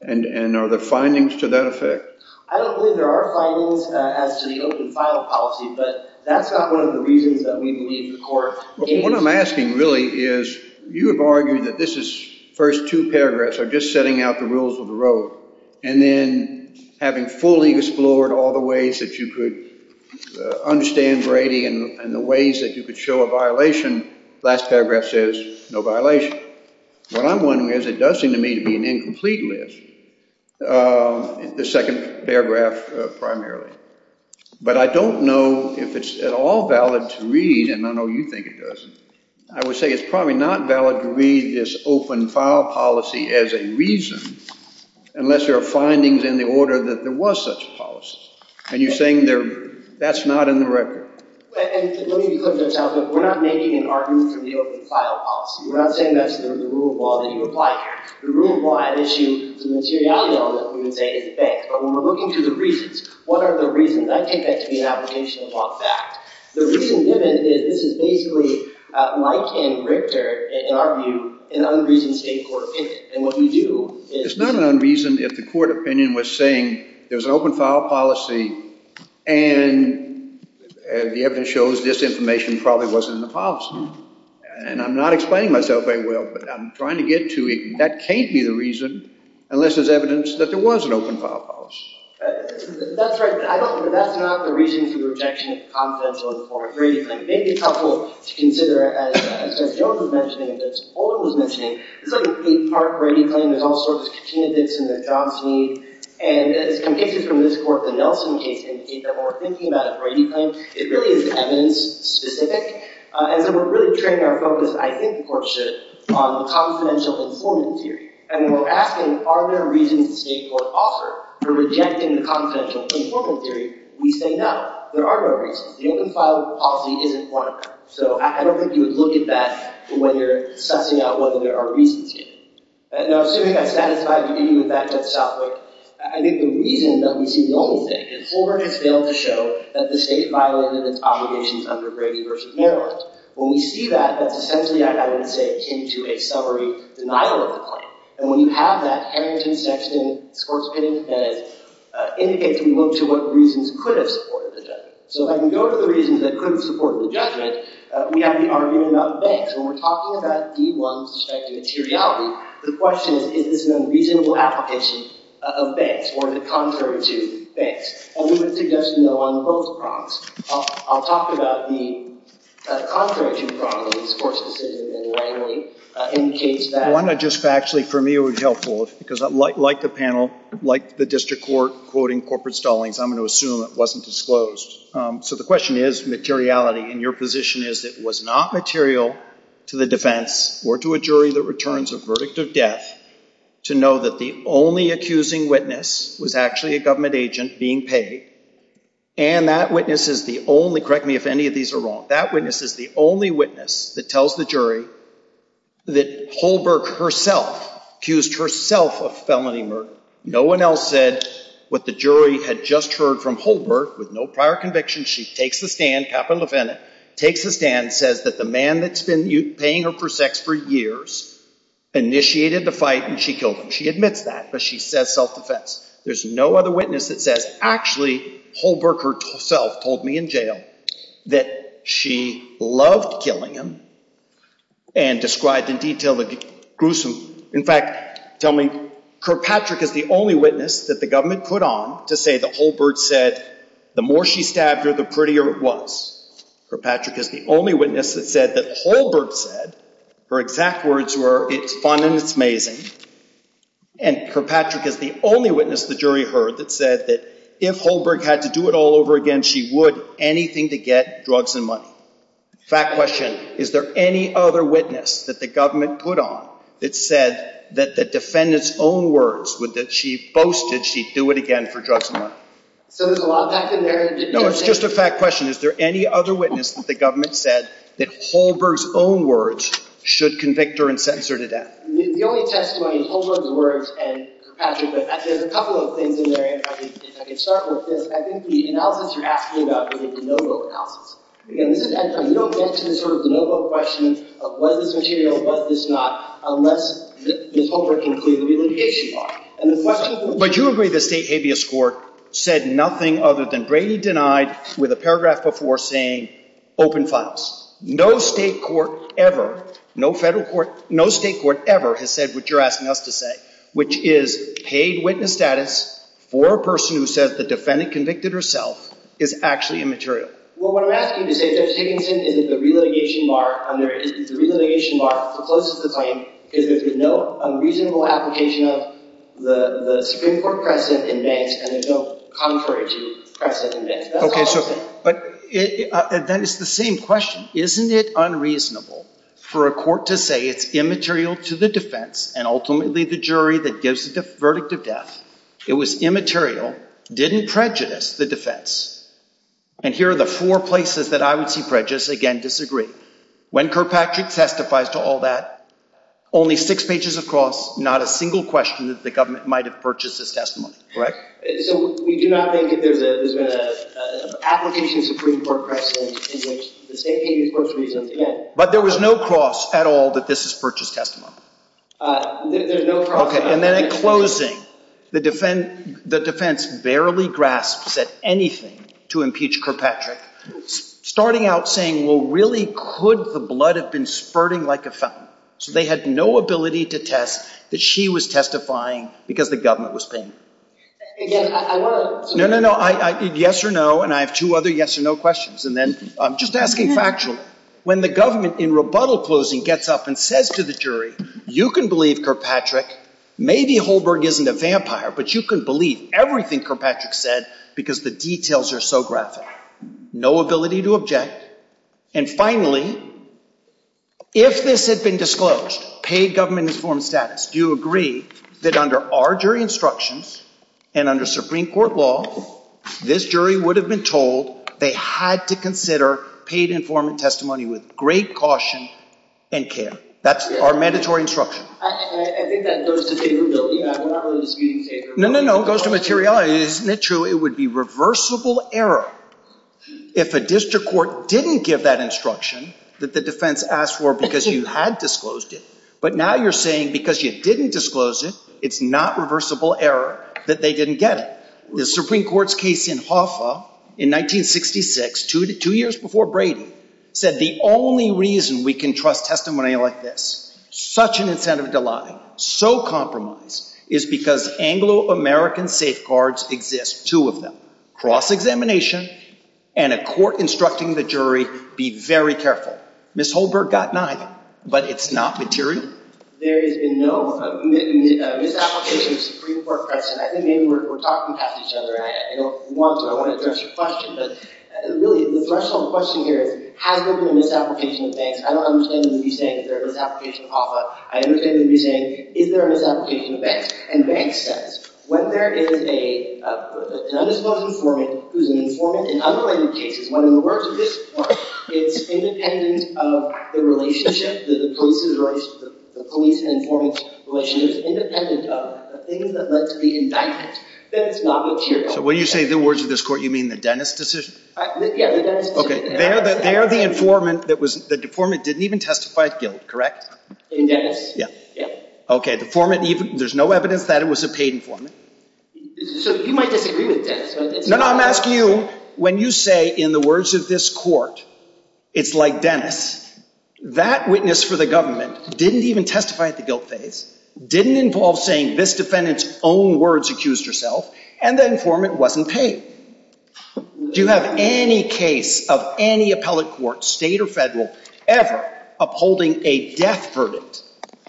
And are there findings to that effect? I don't believe there are findings to the open file policy, but that's not one of the reasons that we need the court. What I'm asking, really, is you have argued that this is, the first two paragraphs are just setting out the rules of the road, and then having fully explored all the ways that you could understand grading and the ways that you could show a violation, the last paragraph says no violation. What I'm wondering is it does seem to me to be an incomplete list, the second paragraph primarily. But I don't know if it's at all valid to read, and I know you think it doesn't, I would say it's probably not valid to read this open file policy as a reason unless there are findings in the order that there was such a policy. And you're saying that's not in the record. Let me be clear, Judge Osler, we're not making an argument for the open file policy. We're not saying that's in the rule of law that you applied. The rule of law has issued some materiality on what we would say is in effect. But when we're looking to the reasons, what are the reasons? I think that can be an application of all facts. The reason given is this is basically a life-saving rift, in our view, in unreasoned state court cases. And what you do is... It's not an unreason if the court opinion was saying there's an open file policy and the evidence shows this information probably wasn't in the policy. And I'm not explaining myself very well, but I'm trying to get to it. That can't be the reason unless there's evidence that there was an open file policy. That's right, but that's not the reason for the rejection of confidentiality. Maybe it's helpful to consider, as Judge Osler was mentioning, the part where you claim there's all sorts of changes in the job scene and it can take you from this court to Nelson case and the case that we're thinking about, or you claim, it really is evidence-specific. And so we're really trading our focus, I think the court should, on confidential informant theory. And when we're asking, are there reasons the state courts offer for rejecting confidential informant theory, we say no, there are no reasons. The open file policy is one of them. So I recommend you look at that when you're assessing out whether there are reasons here. Now, assuming I've satisfied you with that, Judge Osler, I think the reason that we see loneliness is forwarded failure to show that the state violates its obligations under Brady v. Maryland. When we see that, that's essentially, I would say, akin to a summary denial of the claim. And when you have that, parents and sex slaves, courts getting impeded, indicates we look to what reasons could have supported the judgment. So if I can go to the reasons that couldn't support the judgment, we have you arguing about events. When we're talking about D1 suspected materiality, the question is, is there a reasonable application of banks, or is it contrary to banks? And we would suggest no unclosed problems. I'll talk about the contrary to problems, of course, in the case of Brady v. Maryland, in the case that... I want to just, actually, for me it would be helpful, because like the panel, like the district court quoting corporate stallings, I'm going to assume it wasn't disclosed. So the question is, materiality. And your position is it was not material to the defense, or to a jury that returns a verdict of death, to know that the only accusing witness was actually a government agent being paid. And that witness is the only, correct me if any of these are wrong, that witness is the only witness that tells the jury that Holberg herself accused herself of felony murder. No one else said what the jury had just heard from Holberg, with no prior conviction. She takes the stand, capital defendant, takes the stand, says that the man that's been paying her for sex for years initiated the fight, and she killed him. She admits that, but she says self-defense. There's no other witness that says, actually, Holberg herself told me in jail that she loved killing him, and describes in detail the gruesome... In fact, tell me, Kirkpatrick is the only witness that the government put on to say that Holberg said, the more she stabbed her, the prettier it was. Kirkpatrick is the only witness that said that Holberg said, her exact words were, it's fun and it's amazing. And Kirkpatrick is the only witness the jury heard that said that if Holberg had to do it all over again, she would anything to get drugs and money. Fact question, is there any other witness that the government put on that says that the defendant's own words, that she boasted she'd do it again for drugs and money? So there's a lot of fact in there. No, it's just a fact question. Is there any other witness that the government said that Holberg's own words should convict her and sentence her to death? The only testimony is Holberg's words, and Kirkpatrick's words. There's a couple of things in there. I can start with this. I think the analysis you're asking about is the no-vote count. Because at that time, you don't answer the sort of the no-vote question of whether it's material or whether it's not, unless Ms. Holberg can include the relegation mark. But you agree the state habeas court said nothing other than greatly denied with a paragraph before saying open files. No state court ever, no federal court, no state court ever has said what you're asking us to say, which is paid witness status or a person who says the defendant convicted herself is actually immaterial. Well, what I'm asking you to say, Judge Higginson, is the relegation mark. And the reason the relegation mark closes the claim is because there's no reasonable application of the Supreme Court precedent in that and there's no contrary to precedent in that. Okay, but that is the same question. Isn't it unreasonable for a court to say it's immaterial to the defense and ultimately the jury that gives the verdict of death? It was immaterial, didn't prejudice the defense. And here are the four places that I would see prejudice. Again, disagree. When Kirkpatrick testifies to all that, only six pages of cross, not a single question that the government might have purchased this testimony. Correct? We do not think that there's been an application of Supreme Court precedent in which the state habeas court reasoned that. But there was no cross at all that this is purchase testimony. There's no cross. Okay, and then in closing, the defense barely grasps at anything to impeach Kirkpatrick, starting out saying, well, really, could the blood have been spurting like a fountain? So they had no ability to test that she was testifying because the government was paying. Again, I love this. No, no, no, yes or no, and I have two other yes or no questions. And then just asking factually, when the government in rebuttal closing gets up and says to the jury, you can believe Kirkpatrick. Maybe Holberg isn't a vampire, but you can believe everything Kirkpatrick said because the details are so graphic. No ability to object. And finally, if this had been disclosed, paid government informed status, do you agree that under our jury instructions and under Supreme Court law, this jury would have been told they had to consider paid informed testimony with great caution and care? That's our mandatory instruction. I think that goes to materiality. No, no, no, it goes to materiality. Isn't it true it would be reversible error if a district court didn't give that instruction that the defense asked for because you had disclosed it? But now you're saying because you didn't disclose it, it's not reversible error that they didn't get it. The Supreme Court's case in Hoffa in 1966, two years before Brady, said the only reason we can trust testimony like this, such an incentive de laga, so compromised, is because Anglo-American safeguards exist, two of them, cross-examination and a court instructing the jury, be very careful. Ms. Holberg got nine, but it's not material. There is no misapplication of Supreme Court precedent. I think maybe we're talking past each other. I don't want to address your question, but really the threshold question here, has there been a misapplication of banks? I don't understand what you're saying, is there a misapplication of Hoffa? I understand what you're saying, is there a misapplication of banks? And banks, when there is an undisclosed informant, who's an informant in other cases, when the words of this court is independent of the relationship, the police-informant relationship, independent of the things that must be indicted, then it's not material. So when you say the words of this court, you mean the Dennis decision? Yes. They're the informant that the informant didn't even testify to, correct? Yes. Okay, the informant, there's no evidence that it was a paid informant. So you might disagree with Dennis. No, no, I'm asking you, when you say in the words of this court, it's like Dennis, that witness for the government didn't even testify at the guilt phase, didn't involve saying this defendant's own words when she accused herself, and the informant wasn't paid. Do you have any case of any appellate court, state or federal, ever upholding a death verdict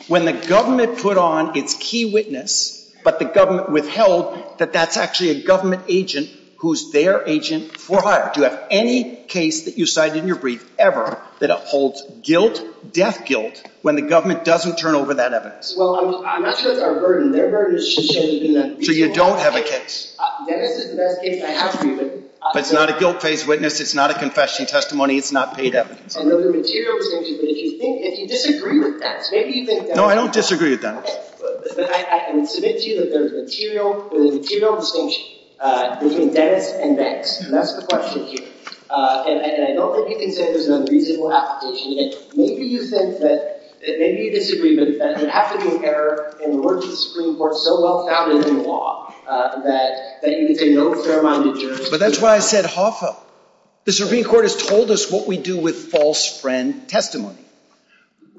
when the government put on its key witness but the government withheld that that's actually a government agent who's their agent for hire? Do you have any case that you cite in your brief ever that upholds guilt, death guilt, when the government doesn't turn over that evidence? Well, I'm not sure it's our burden. Their burden is she's changing that case. So you don't have a case. Dennis isn't that case. I have a case. But it's not a guilt-based witness. It's not a confession testimony. It's not paid evidence. I know the material is interesting, but if you think, if you disagree with Dennis, maybe you think that. No, I don't disagree with Dennis. But I can submit to you that there's a material, there's a material distinction between Dennis and Dennis, and that's the question here. And I don't think you can say there's no reasonable explanation. Maybe you think that maybe you disagree with Dennis. It has to do with Eric. And we're a Supreme Court so well-founded in the law that you can ignore a fair amount of material. But that's why I said Hoffa. The Supreme Court has told us what we do with false friend testimony.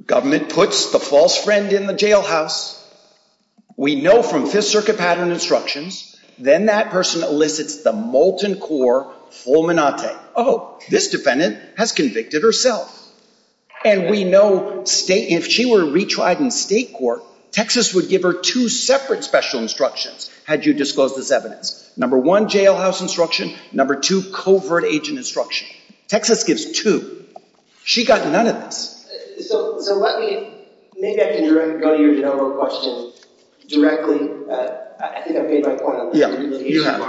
Government puts the false friend in the jailhouse. We know from Fifth Circuit pattern instructions, then that person elicits the molten core fulminante. Oh, this defendant has convicted herself. And we know if she were retried in state court, Texas would give her two separate special instructions had you disclosed this evidence. Number one, jailhouse instruction. Number two, covert agent instruction. Texas gives two. She got none of this. So let me, maybe I can go to your general question directly. I think I've made my point. Yeah, you have.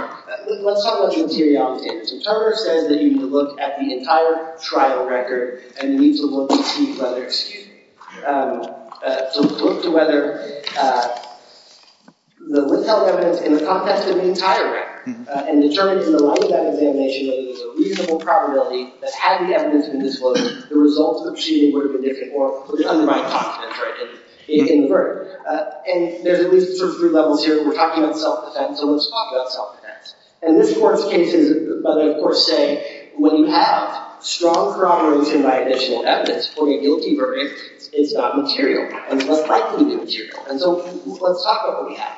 Let's talk about the material. So Charter says that you need to look at the entire trial record and need to look to see whether, excuse me, to look to whether the list of evidence in the context of the entire record and determine from the line of examination that there's a reasonable probability that had the evidence been disclosed, the results of she were convicted or put under my box, the person is in work. And there's these sort of three levels here. We're talking about self-defense. So let's talk about self-defense. And this work came to, as I first said, when you have strong corroboration by additional evidence for a guilty version, it's not material. And what property is material? And so let's talk about what we have.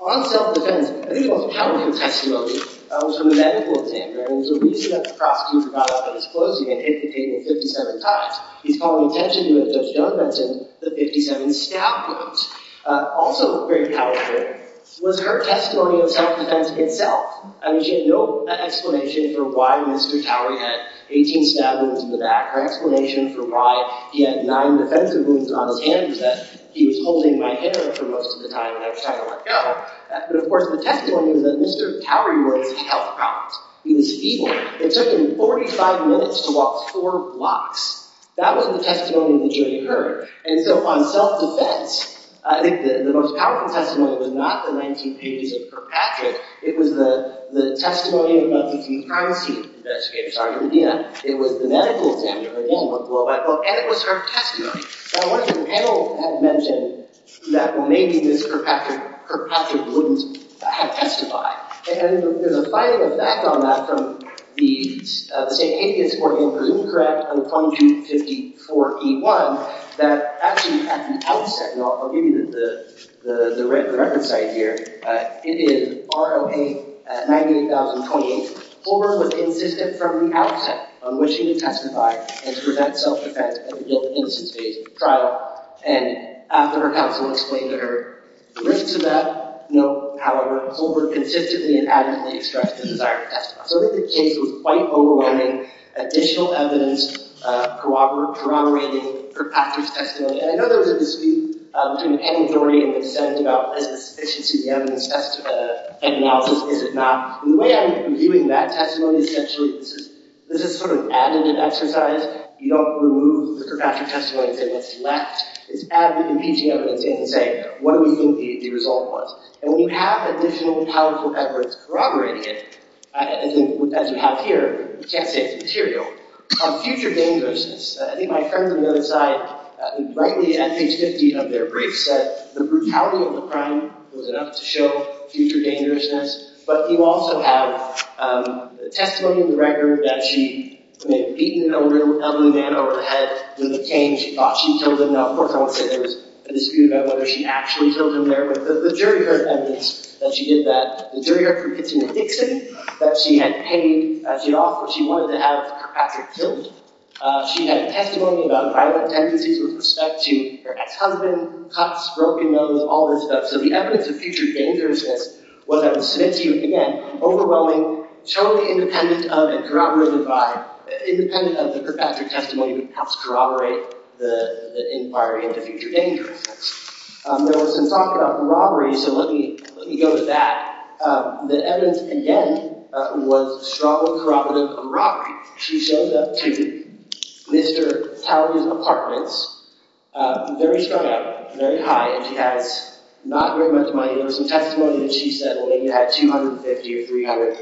On self-defense, there's a lot of testimony from the medical team. And so we see that the prosecutor got up and disclosed again, indicating the 50-70 cost. He's calling attention to it, Judge Dunbar, to the 50-70 staff votes. Also very powerful was her testimony of self-defense itself. I mean, she had no explanation for why Mr. Cowery had 18 stab wounds in the back, no explanation for why he had nine defensive wounds on his hands, that he was holding my hair for most of the time when I was trying to let go. But, of course, the testimony that Mr. Cowery wrote was a health promise. He was feverish. It took him 45 minutes to walk four blocks. That was the testimony that she incurred. And so on self-defense, I think the most powerful testimony was not the 1980s of Kirkpatrick. It was the testimony of a D.C. primacy investigator, Sergeant Medina. It was the medical examiner. It wasn't a blow-by-blow. And it was her testimony. Now, what the panel has mentioned is that maybe Mr. Kirkpatrick's wounds had testified. And there's a slight effect on that from the St. Hedius Court, which is incorrect. And from June 54, he won. That actually has an outset. I'll give you the reference right here. It is R.O.A. 98,028. Holder was insistent from the outset on wishing to testify and to prevent self-defense until the instance of trial. And after her counsel explained to her the risks of that, however, Holder consistently and adamantly expressed the desire to testify. So this is a case with quite overwhelming additional evidence corroborating Kirkpatrick's testimony. And I know there's a dispute between Penny Dorey and Ms. Evans about the sufficiency of the evidence. Is it not? The way I would view it in that testimony, essentially, this is sort of an added exercise. You don't remove the Kirkpatrick testimony. It's left. It's added with impeaching evidence and saying, what are we going to be able to do with all of this? And we have additional and powerful efforts corroborating it, as you have here, to protect its material. Future dangerousness. I think my friend on the other side rightly, in page 15 of their brief, said the brutality of the crime was enough to show future dangerousness. But you also have the testimony of the record that she may have beaten a man over the head with a cane. She thought she killed him, not her horse. There's a dispute about whether she actually killed him there. But the jury heard evidence that she did that. The jury argued it's an addiction that she had paid to offer. She wanted to add Kirkpatrick to it. She had testimony about violent tendencies with respect to her ex-husband, cops, broken nose, all this stuff. So the evidence of future dangerousness was, I will submit to you again, overwhelming, totally independent of and corroborated by, independent of the Kirkpatrick testimony that helps corroborate the inquiry of the future dangerousness. There was some talk about the robbery, so let me go to that. The evidence, again, was strong corroboration of the robbery. She shows up to Mr. Townsend's apartment, very strutting, very high. She has not very much money. There was some testimony that she said that maybe had $250 or $300.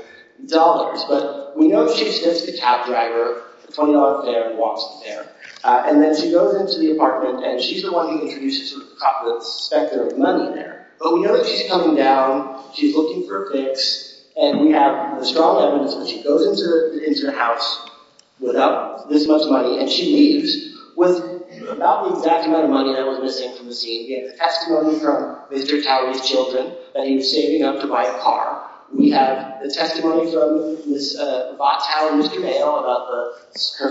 But we know that she sits at the cab driver, $20 there, $20 there. And then she goes into the apartment, and she's the one who introduces her to the cop with the suspect that there was none there. But we know she's coming down, she's looking for a fix, and we have the strong evidence that she goes into her house without this much money, and she leaves. Without the exact amount of money that was missing from the scene, we have testimony from Mr. Townsend's children that he was saving up to buy a car. We have the testimony from Ms. Bob Townsend, Mr. Dale, about her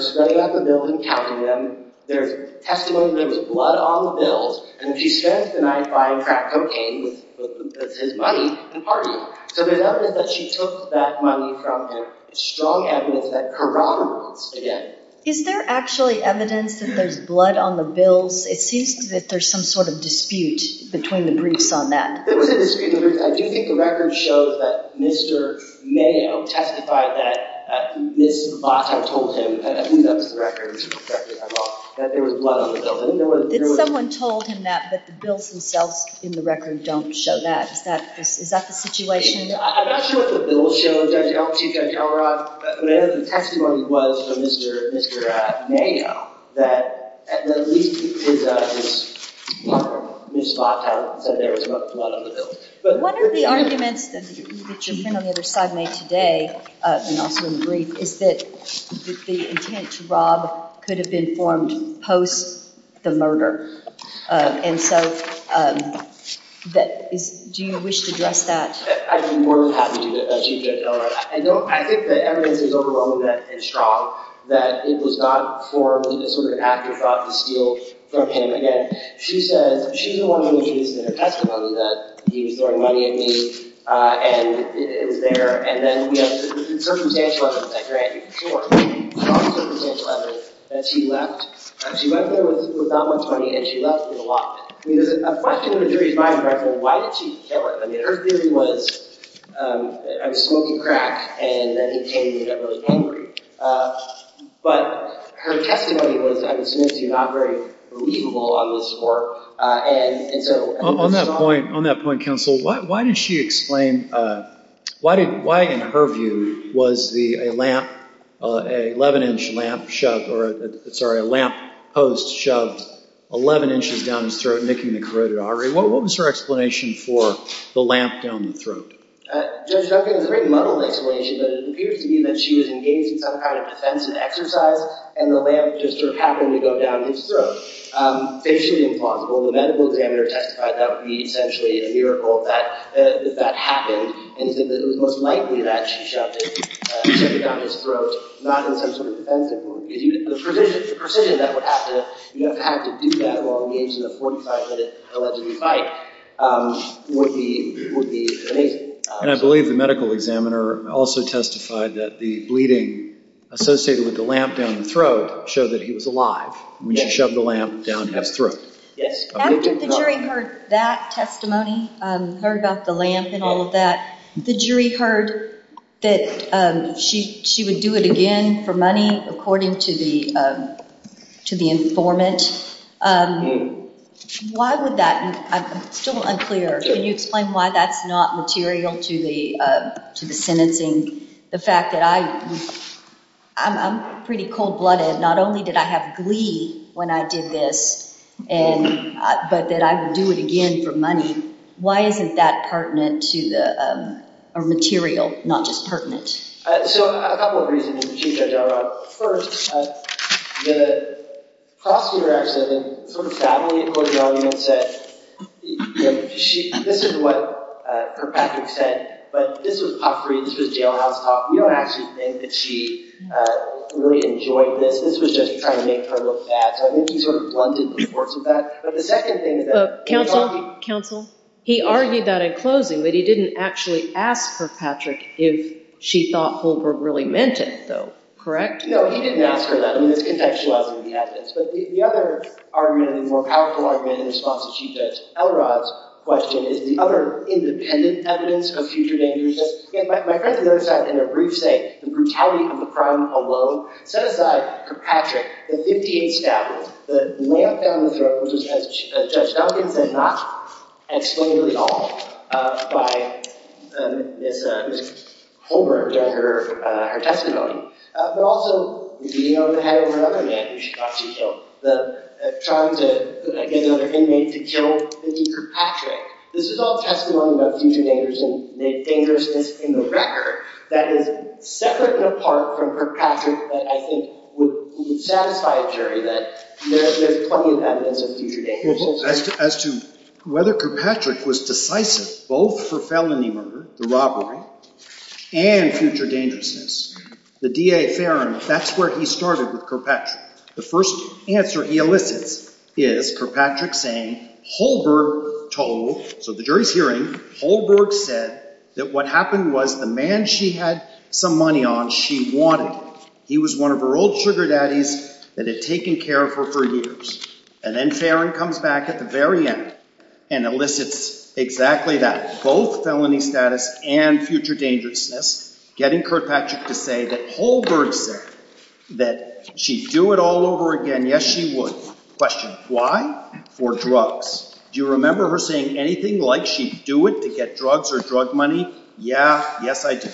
staying at the building, helping them. There's testimony that there was blood on the bills, and that she's carrying a knife, buying crack cocaine, that's his money in part. So there's evidence that she took that money from him. Strong evidence that corroborates it. Is there actually evidence that there's blood on the bills? It seems that there's some sort of dispute between the briefs on that. There was a dispute. I do think the records show that Mr. Mayo testified that Ms. Bob Townsend had left the records, that there was blood on the bills. Did someone tell him that the bills themselves in the records don't show that? Is that the situation? I'm not sure what the bill shows. I don't know what she's got to cover up. But I know the text was from Mr. Mayo, that Ms. Bob Townsend said there was blood on the bills. One of the arguments that you've been on the other side of me today, and also in the brief, is that the intent to rob could have been formed post the murder. And so do you wish to address that? I think we're happy that she can't tell us that. I think the evidence is overwhelming and strong that it was not formed as sort of an afterthought to steal cocaine again. She said she's the one who used the testimony that he was throwing money at me, and it's there. And then we have the circumstantial evidence that you're asking for, the circumstantial evidence that she left. She went there with not much money, and she left with a lot. I mean, there's a question of the jury's mind right there, why did she steal it? I mean, her theory was that I was smoking crack, and that indicated that I was hangry. But her testimony was, I would say, not very believable on this report. On that point, counsel, why did she explain, why, in her view, was a lamp post shoved 11 inches down his throat, making the corroded artery? What was her explanation for the lamp down the throat? Judge Duncan, in the written model's explanation, it appears to me that she was engaged in some kind of defensive exercise, and the lamp just sort of happened to go down his throat. Basically, the medical examiner testified that would be essentially a miracle that that happened, and that it was most likely that she shoved it down his throat, not in terms of a defensive one. The precision that would have to do that while engaged in a 45-minute alleged fight would be amazing. And I believe the medical examiner also testified that the bleeding associated with the lamp down the throat showed that he was alive when she shoved the lamp down his throat. After the jury heard that testimony, heard about the lamp and all of that, the jury heard that she would do it again for money, according to the informant. Why would that? I'm still unclear. Can you explain why that's not material to the sentencing? The fact that I'm pretty cold-blooded. Not only did I have glee when I did this, but that I would do it again for money. Why isn't that pertinent to the material, not just pertinent? So, a couple of reasons. First, I made a cross-interaction, and sort of sadly, according to what everyone said, this is what Kirkpatrick said, but this was top-priority. This was jailhouse talk. We don't actually think that she really enjoyed this. This was just trying to make her look bad. So, I think he sort of blunted the reports with that. But the second thing is that— Counsel? Counsel? He argued that in closing, that he didn't actually ask Kirkpatrick if she thought Holbrooke really meant it, though. Correct? No, he didn't ask for that. He was contentious about it when he had this. But the other argument, the more powerful argument in response to Chief Judge Elrod's question is the other independent evidence of future dangers. Again, my friend notes that in a brief state, the brutality of the crime alone set aside Kirkpatrick and 58 staffers. The lay-up down the throes of Judge Duncan did not explain this at all by Ms. Holbrooke and her testimony. But also, as you know, it had another reason she thought she killed. Trying to get another inmate to kill Kirkpatrick. This is all testimony about future dangers and dangerousness in the record that is separate apart from Kirkpatrick that I think would satisfy a jury that there are plenty of evidence of future dangers. As to whether Kirkpatrick was decisive both for felony murder, the robbery, and future dangerousness, the D.A. Fairings, that's where he started with Kirkpatrick. The first answer he elicited is Kirkpatrick saying Holbrooke told—so the jury's hearing, Holbrooke said that what happened was the man she had some money on, she wanted. He was one of her old sugar daddies that had taken care of her for years. And then Fairing comes back at the very end and elicits exactly that. Both felony status and future dangerousness. Getting Kirkpatrick to say that Holbrooke said that she'd do it all over again, yes she would. Question, why? For drugs. Do you remember her saying anything? Like she'd do it to get drugs or drug money? Yeah, yes I do.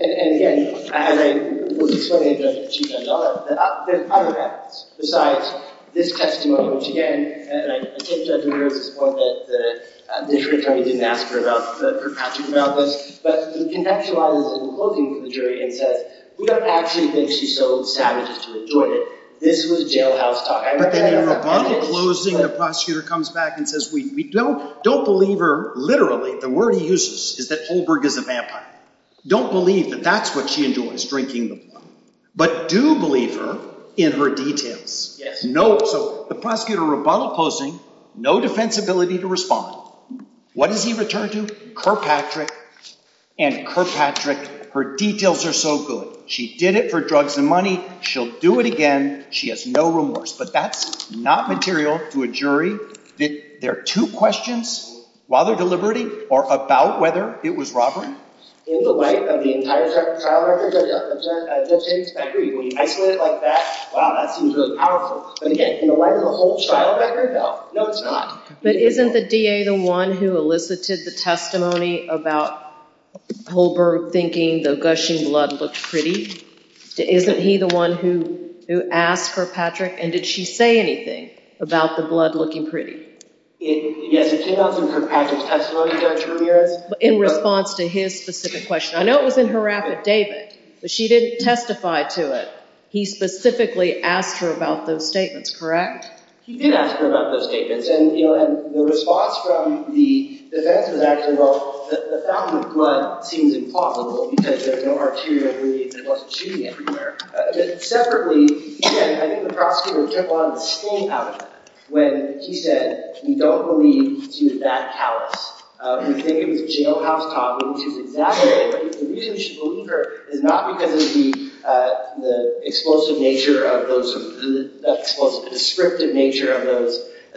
And again, as I was explaining, there's other evidence. Besides this testimony, which again, I think I can agree with this point that the jury attorney didn't ask her about Kirkpatrick. But the connection I was quoting from the jury is that we don't actually think she's so sadistic to have done it. This was jailhouse talk. But then in robotic closing, the prosecutor comes back and says we don't believe her, literally, the word he uses is that Holbrooke is a vampire. Don't believe that that's what she enjoyed was drinking. But do believe her in her details. So the prosecutor, robotic closing, no defensibility to respond. What did he return to? Kirkpatrick. And Kirkpatrick, her details are so good. She did it for drugs and money. She'll do it again. She has no remorse. But that's not material to a jury. There are two questions. While they're deliberating, or about whether it was robbery. In the life of the entire trial record, does that concern us? I agree. I agree about that. Wow, that seems really powerful. But again, in the life of the whole trial record? No. No, it's not. But isn't the DA the one who elicited the testimony about Holbrooke thinking the gushing blood looked pretty? Isn't he the one who asked Kirkpatrick? And did she say anything about the blood looking pretty? In response to his specific question. I know it was in her affidavit. But she didn't testify to it. He specifically asked her about those statements, correct? He did ask her about those statements. And the response from the defense is actually, well, the fountain of blood seems implausible, because there's no arterial bleeding. There wasn't shooting anywhere. But separately, I think the prosecutor came along with a scream out when he said, we don't believe she was that callous. We think it was a jailhouse cop. We think it was that way. But the reason she believed her did not because of the explosive nature of those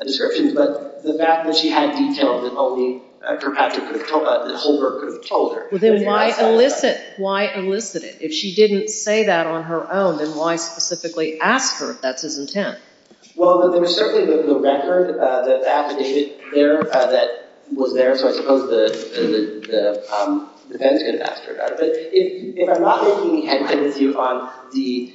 descriptions. But the fact that she had details involving Kirkpatrick that Holbrooke could have told Then why elicit it? If she didn't say that on her own, then why specifically ask her if that's his intent? Well, there was certainly the record that the affidavit was there. So I suppose the defense could have asked her about it. But if I'm not mistaken, he had said it to you on the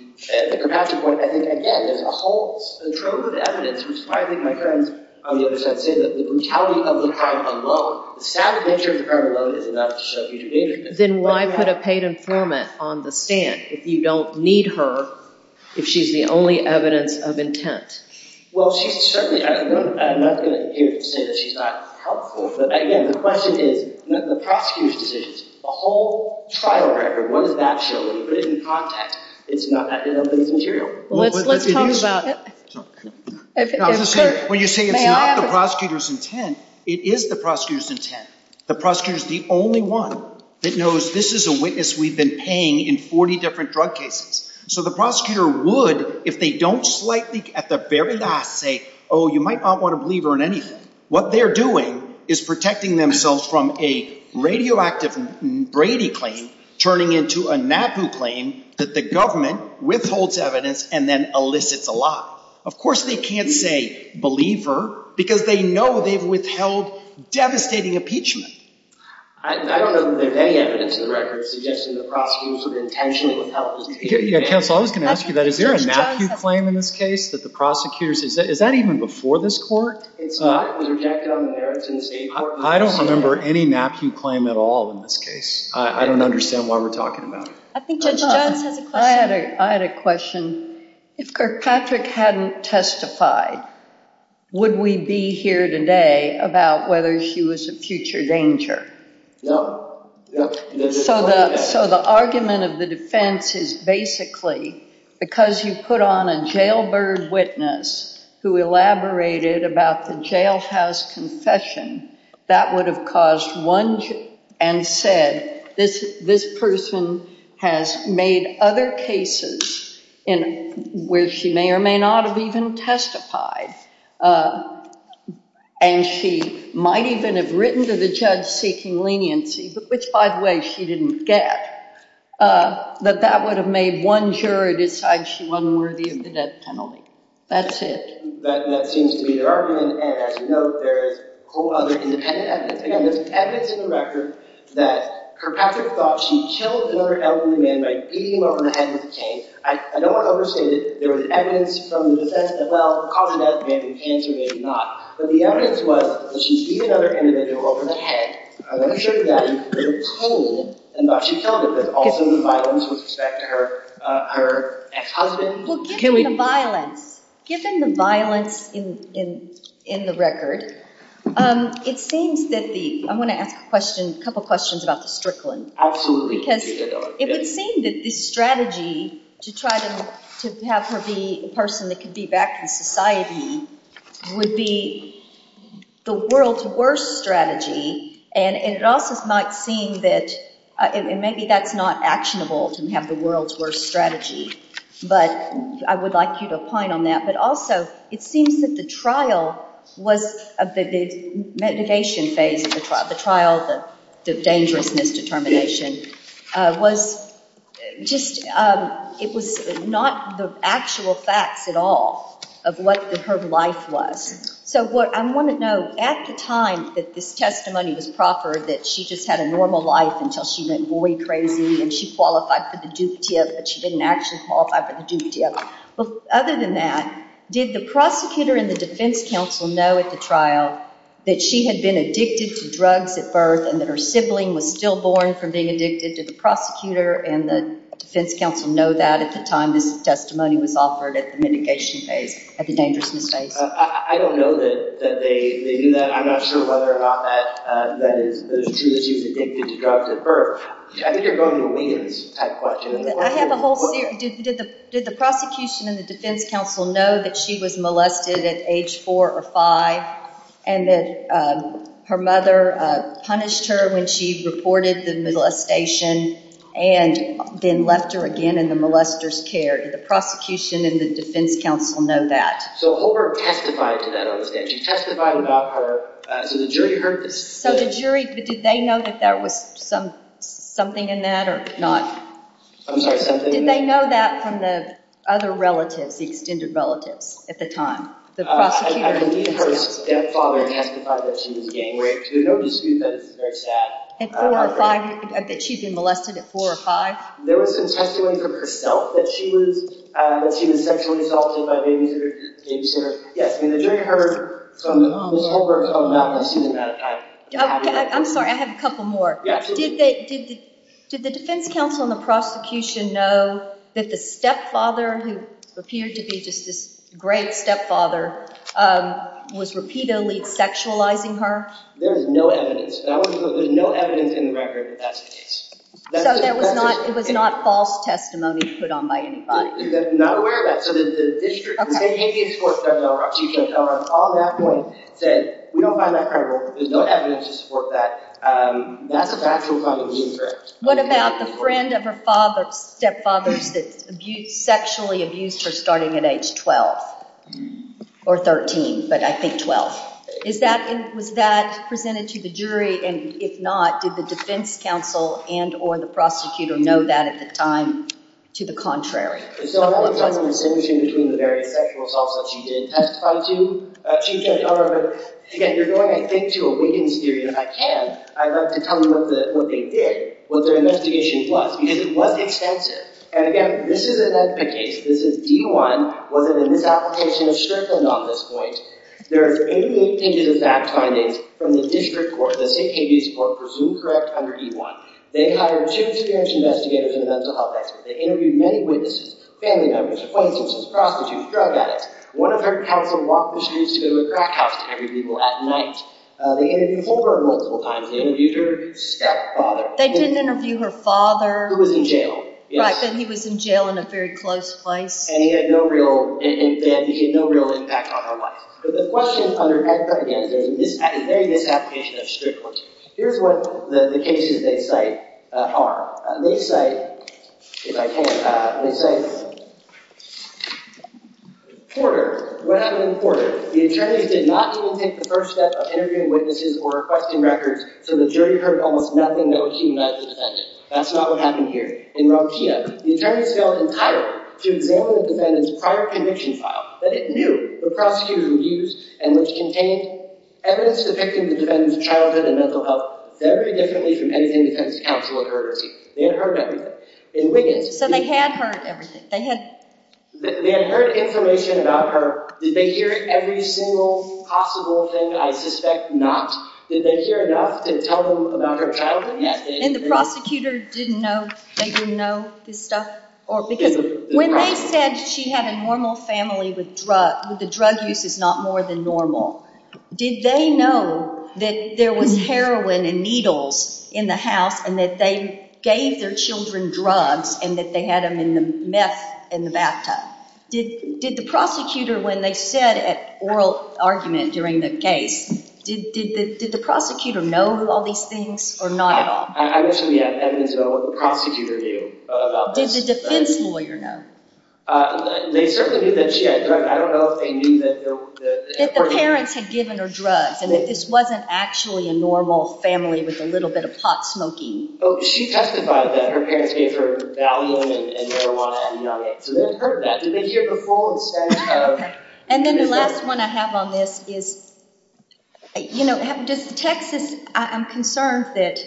Kirkpatrick court. I think, again, there's a whole trove of evidence, which is why I think my friends on the other side say that the brutality of the crime alone, the stabbing nature of the Then why put a paid informant on the stand if you don't need her, if she's the only evidence of intent? Well, she certainly hasn't done enough to say that she's not helpful. But, again, the question is, the prosecutor's decision, the whole trial record, whether that's true, put in context, is not that relevant material. Let's talk about it. When you say it's not the prosecutor's intent, it is the prosecutor's intent. The prosecutor's the only one that knows this is a witness we've been paying in 40 different drug cases. So the prosecutor would, if they don't slightly, at the very last, say, oh, you might not want a believer in anything. What they're doing is protecting themselves from a radioactive Brady claim turning into a Matthew claim that the government withholds evidence and then elicits a law. Of course they can't say believer because they know they've withheld devastating impeachment. I don't know if there's any evidence in the record suggesting the prosecutor's intention would help. Yes, I was going to ask you that. Is there a Matthew claim in this case that the prosecutors, is that even before this court? It's not. It was rejected on the merits in the state court. I don't remember any Matthew claim at all in this case. I don't understand why we're talking about it. I had a question. If Kirkpatrick hadn't testified, would we be here today about whether she was a future danger? No. So the argument of the defense is basically because you put on a jailbird witness who elaborated about the jailhouse confession, that would have caused one, and said, this person has made other cases where she may or may not have even testified, and she might even have written to the judge seeking leniency, which by the way she didn't get, that that would have made one jury decide she wasn't worthy of the death penalty. That's it. That seems to be the argument. There's evidence in the record that Kirkpatrick thought she killed another elderly man by beating him over the head with a cane. I don't want to overstate it. There was evidence from the defense that, well, the cause of death may have been cancer maybe not. But the evidence was that she beat another elderly man over the head with a cane, and she tells us there's also been violence with respect to her ex-husband. Given the violence in the record, it seems that the, I'm going to ask a couple questions about the Strickland. Absolutely. Because it would seem that the strategy to try to have her be a person that could be back in society would be the world's worst strategy, and it also might seem that, and maybe that's not actionable, to have the world's worst strategy, but I would like you to opine on that. But also, it seems that the trial was, of the mitigation phase, the trial, the dangerousness determination, was just, it was not the actual facts at all of what her life was. So what I want to know, at the time that this testimony was proffered, that she just had a normal life until she went boy crazy and she qualified for the Duke TF, but she didn't actually qualify for the Duke TF. But other than that, did the prosecutor and the defense counsel know at the trial that she had been addicted to drugs at birth and that her sibling was stillborn from being addicted to the prosecutor, and the defense counsel know that at the time this testimony was offered at the mitigation phase, at the dangerousness phase? I don't know that they knew that. I'm not sure whether or not that she was addicted to drugs at birth. I think you're going to leave me with this type of question. I have a whole theory. Did the prosecution and the defense counsel know that she was molested at age four or five and that her mother punished her when she reported the molestation and then left her again in the molester's care? Did the prosecution and the defense counsel know that? So Holbrook testified to that. She testified about her. Did the jury heard this? So the jury, did they know that there was something in that or not? I'm sorry, something? Did they know that from the other relatives, the extended relatives at the time? I believe her stepfather and auntie thought that she was a gang rapist. There's no dispute that it's very sad. That she'd been molested at four or five? There was some testimony from herself that she was sexually assaulted at age four. Yes, the jury heard from Ms. Holbrook about molesting at that time. I'm sorry, I have a couple more. Yes. Did the defense counsel and the prosecution know that the stepfather, who appeared to be just this great stepfather, was repeatedly sexualizing her? There's no evidence. There's no evidence in the record that that's the case. So it was not false testimony put on by anybody? No. We're not aware of that. So the district, we can't give you a scorecard. She can't tell us all that. We don't find that credible. There's no evidence to support that. That's a fact we're going to be incorrect. What about the friend of her stepfather's that sexually abused her starting at age 12? Or 13, but I think 12. Was that presented to the jury? And if not, did the defense counsel and or the prosecutor know that at the time? To the contrary. So I'm not going to tell you the distinction between the various sexual assaults that she did testify to. She can't tell us. Again, you're going, I think, to a witness theory, and if I can, I'd like to tell you what they did. What their investigation was. Because it was extensive. And again, this is an investigation. This is D1. Whether the misapplication is strict or not, at this point. There are 88 pages of facts finding from the district court that they can't use to support a presumed correct under D1. They hired a chief intervention investigator for the mental health expert. They interviewed many witnesses. Family members. Friends of his. Prostitutes. Drug addicts. One of her counterparts walked with shoes to a crack house to interview people at night. They interviewed her multiple times. They interviewed her stepfather. They did interview her father. Who was in jail. He was in jail in a very close place. And he had no real impact on her life. But the questions under D1, again, they misapplication it strictly. Here's what the cases they cite are. They cite, if I can, they cite Porter. When I was in Porter, the attorney did not even take the first step of interviewing witnesses or requesting records, so the jury heard almost nothing that was seen by the defense. That's not what happened here. The attorney failed entirely to examine the defendant's prior conviction file. But it knew the prostitute's abuse and which contained evidence depicting the defendant's childhood and mental health very differently from anything the defense counsel had heard. They had heard everything. So they had heard everything. They had heard information about her. Did they hear every single possible thing? I suspect not. Did they hear enough to tell them about her childhood? And the prosecutors didn't know? They didn't know this stuff? Because when they said she had a normal family with a drug use that's not more than normal, did they know that there was heroin and needles in the house and that they gave their children drugs and that they had them in the mess in the bathtub? Did the prosecutor, when they said an oral argument during the case, did the prosecutor know all these things or not at all? I would say yes. Evidence about what the prosecutor knew. Did the defense lawyer know? They certainly knew that she had drugs. I don't know if they knew that there was... That the parents had given her drugs and that this wasn't actually a normal family with a little bit of pot smoking. Oh, she testified that her parents gave her Valium and marijuana. So they heard that. Did they hear it before? And then the last one I have on this is... You know, just text it. I'm concerned that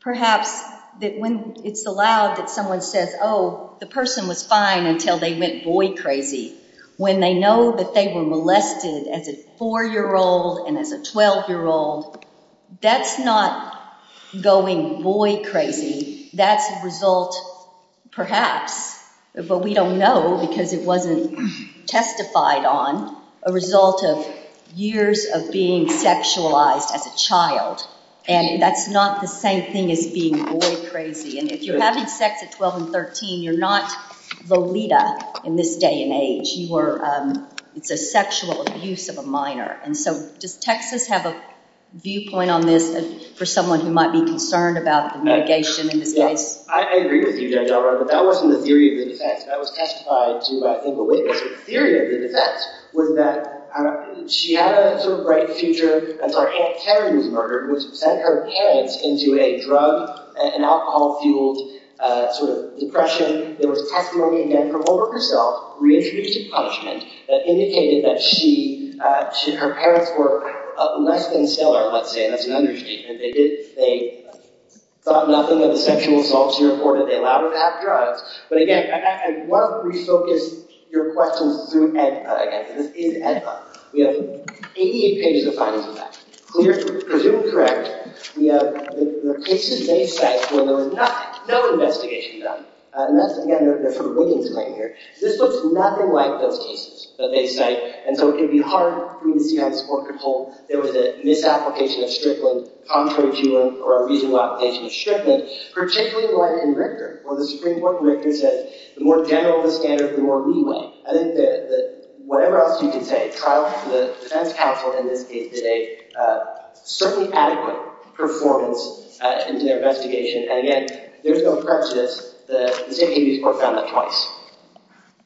perhaps when it's allowed that someone says, oh, the person was fine until they went boy crazy. When they know that they were molested as a 4-year-old and as a 12-year-old, that's not going boy crazy. That's a result, perhaps, but we don't know because it wasn't testified on, a result of years of being sexualized as a child. And that's not the same thing as being boy crazy. And if you're having sex at 12 and 13, you're not Valida in this day and age. It's a sexual abuse of a minor. And so, does Texas have a viewpoint on this for someone who might be concerned about the mitigation in this case? I agree with you, Judge Ellard, but that wasn't the theory of the defense. That was testified to in Valida. The theory of the defense was that she had a sort of bright future as our Aunt Karen was murdered, which sent her head into a drug and alcohol-fueled sort of depression. There was testimony, again, from over herself, reintroduced as punishment, that indicated that she, her parents were molested instead of, let's say, as an underage student. They thought nothing of the sexual assaults, therefore, that they allowed her to have drugs. But, again, I'd love for you to focus your questions through EDPA. This is EDPA. We have 88 pages of copies of that. We have the different threads. We have the cases they cite where there was no investigation done. And, again, there are different readings right here. This looks nothing like those cases that they cite, and so it can be hard for the community to have support control. There was a misapplication of stripping, contrary to a reasonable application of stripping, particularly for a convictor, or the Supreme Court convictors that the more general the standards, the more reasonable. I think that whatever else you can say, trial the defense counsel and indicate that they certainly adequate performance into their investigation. And, again, there's no prejudice that the state agencies worked on that twice.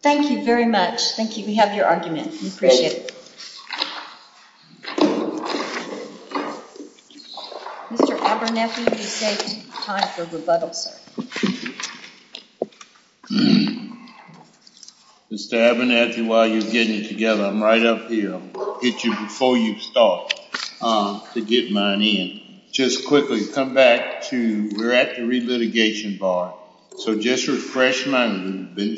Thank you very much. Thank you. We have your argument. We appreciate it. Thank you. Mr. Abernathy, you're taking time for rebuttal, sir. Mr. Abernathy, while you're getting it together, I'm right up here. I'll hit you before you start to get mine in. Just quickly, come back to we're at the re-litigation bar, so just refresh my memory.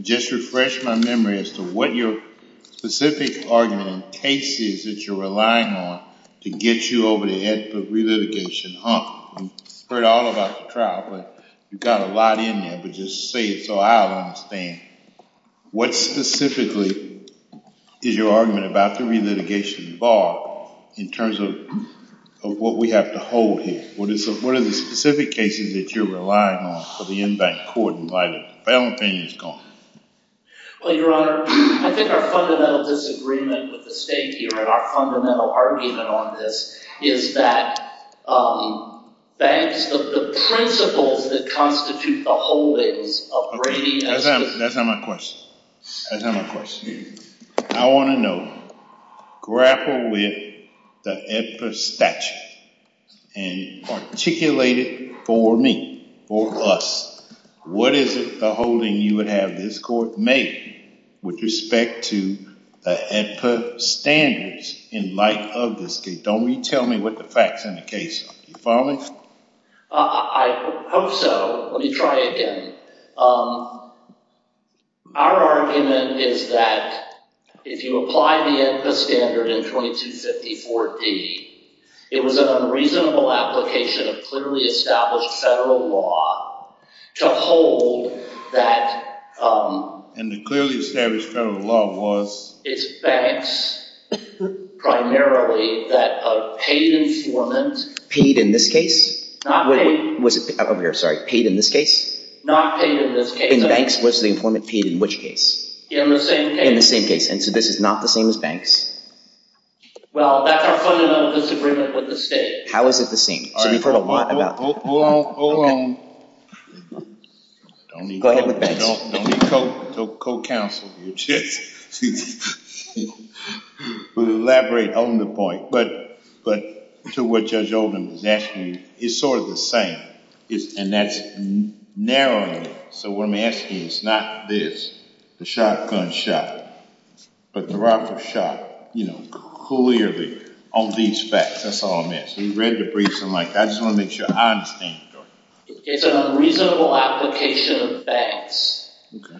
Just refresh my memory as to what your specific argument is that you're relying on to get you over the edge of the re-litigation. I've heard all about the trial, but you've got a lot in there, but just say it so I'll understand. What specifically is your argument about the re-litigation bar in terms of what we have to hold here? What are the specific cases that you're relying on for the in-bank court in light of the valentine's call? Well, your Honor, I think our fundamental disagreement with the state here and our fundamental argument on this is that banks, the principle that constitutes the whole is of bringing in... That's not my question. That's not my question. I want to know, grappled with the EFPA statute and articulate it for me, for us, what is the holding you would have this court make with respect to the EFPA standards in light of this case? Don't tell me what the facts are in the case. Do you follow me? I hope so. Let me try again. Our argument is that if you apply the EFPA standard in 2254D, it was an unreasonable application of clearly established federal law to hold that... And the clearly established federal law was? It's banks, primarily, that have paid infillments... Paid in this case? Over here, sorry. Paid in this case? Not paid in this case. In the banks? What's the infillment paid in which case? In the same case. In the same case. And so this is not the same as banks? Well, that's our fundamental disagreement with the state. How is it the same? You've heard a lot about... Hold on, hold on. Go ahead. I don't need co-counsel here. We'll elaborate on the point. But to what Judge Oldham is asking, it's sort of the same. And that's narrowing it. So what I'm asking is not this, the shotgun shot, but the rifle shot, you know, clearly on these facts. That's all I'm asking. Read the briefs and like that. I just want to make sure I understand. It's an unreasonable application of banks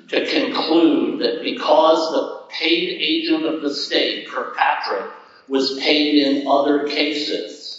to conclude that because the paid agent of the state, Kirkpatrick, was paid in other cases,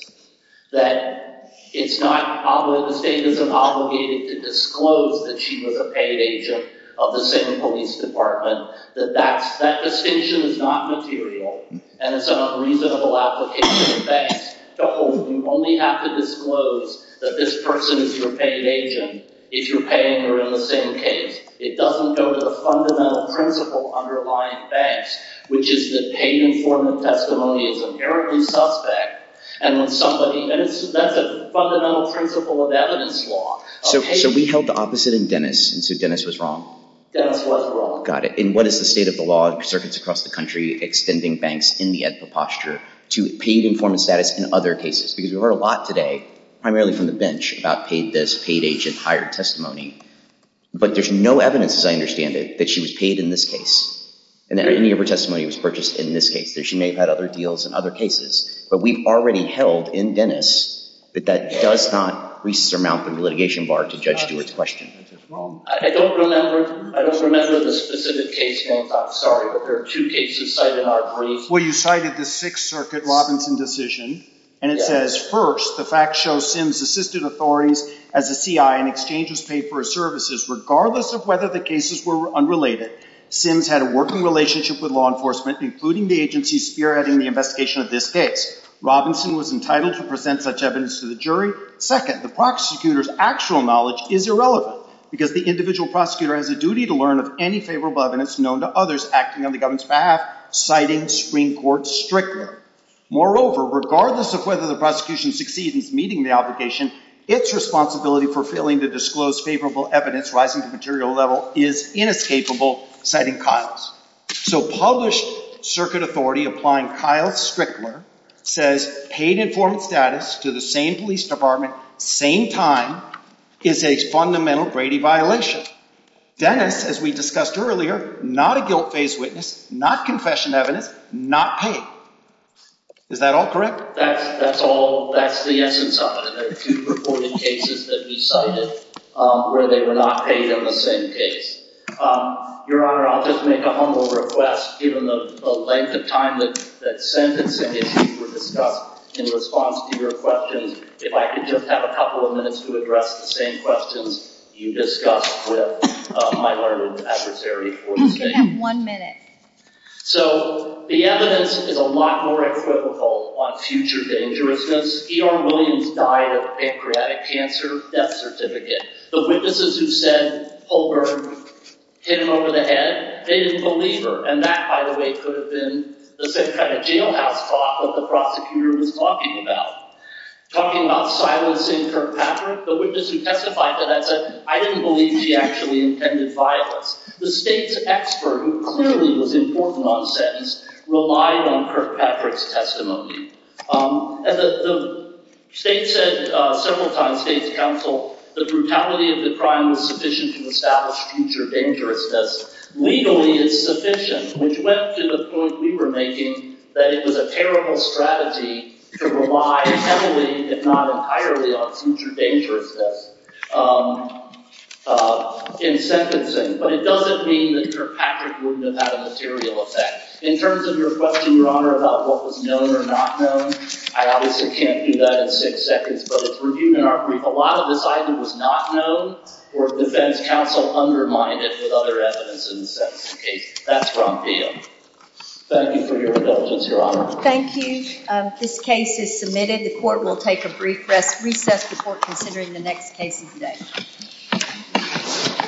that it's not... The state is obligated to disclose the chief of the paid agent of the same police department that that decision is not material. And it's an unreasonable application of banks. So you only have to disclose that this person is your paid agent if you're paying her in the same case. It doesn't go to the fundamental principle underlying banks, which is the paid informant testimonial of every suspect. And it's not the fundamental principle of evidence law. So we held the opposite in Dennis and said Dennis was wrong. Dennis was wrong. Got it. And what is the state of the law in circuits across the country extending banks in the other cases? Because we've heard a lot today, primarily from the bench, about this paid agent hired testimony. But there's no evidence, as I understand it, that she was paid in this case. And that any of her testimony was purchased in this case. She may have had other deals in other cases. But we've already held in Dennis that that does not resurmount the litigation bar to judge Dennis' question. I don't remember the specific case. I'm sorry. But there are two cases cited in our briefs. First, what you cite is the Sixth Circuit Robinson decision. And it says, first, the facts show Sims assisted authorities as a C.I. in exchanges paid for his services. Regardless of whether the cases were unrelated, Sims had a working relationship with law enforcement, including the agency spearheading the investigation of this case. Robinson was entitled to present such evidence to the jury. Second, the prosecutor's actual knowledge is irrelevant because the individual prosecutor has a duty to learn of any favorable evidence known to others acting on the same court stricter. Moreover, regardless of whether the prosecution succeeds in meeting the application, its responsibility for failing to disclose favorable evidence rising to the material level is inescapable, citing Kyle's. So published circuit authority applying Kyle's stricter says paid informed status to the same police department, same time, is a fundamental Brady violation. Dennis, as we discussed earlier, not a guilt-based witness, not confession evidence, not paid. Is that all correct? That's all. That's the essence of it. There are two reported cases that you cited where they were not paid on the same case. Your Honor, I'll just make a humble request, given the length of time that the sentence and the case were discussed, in response to your question, if I could just have a couple of minutes to address the same questions you discussed with my learned adversary for the case. You have one minute. So the evidence is a lot more echoical on future dangerousness. E.R. Williams died of a pancreatic cancer death certificate. The witnesses who said Holbrook hit him over the head, they didn't believe her. And that, by the way, could have been the same kind of jailhouse thought that the prosecutor was talking about. Talking about silencing Kirkpatrick, the witnesses who testified to that, I didn't believe she actually intended violence. The state expert, who clearly was important on the sentence, relied on Kirkpatrick's And as the state said several times, state's counsel, the brutality of the crime was sufficient to establish future dangerousness. Legally, it's sufficient, which led to the quote we were making, that it was a terrible strategy to rely heavily, if not entirely, on future dangerousness in sentencing. But it doesn't mean that Kirkpatrick wouldn't have had a material effect. In terms of your question, Your Honor, about what was known or not known, I obviously can't do that in six seconds. But a lot of the evidence was not known, or the defense counsel undermined it with other evidence. That's where I'm being. Thank you for your indulgence, Your Honor. Thank you. This case is submitted. The court will take a recess. Recess before considering the next case of the day.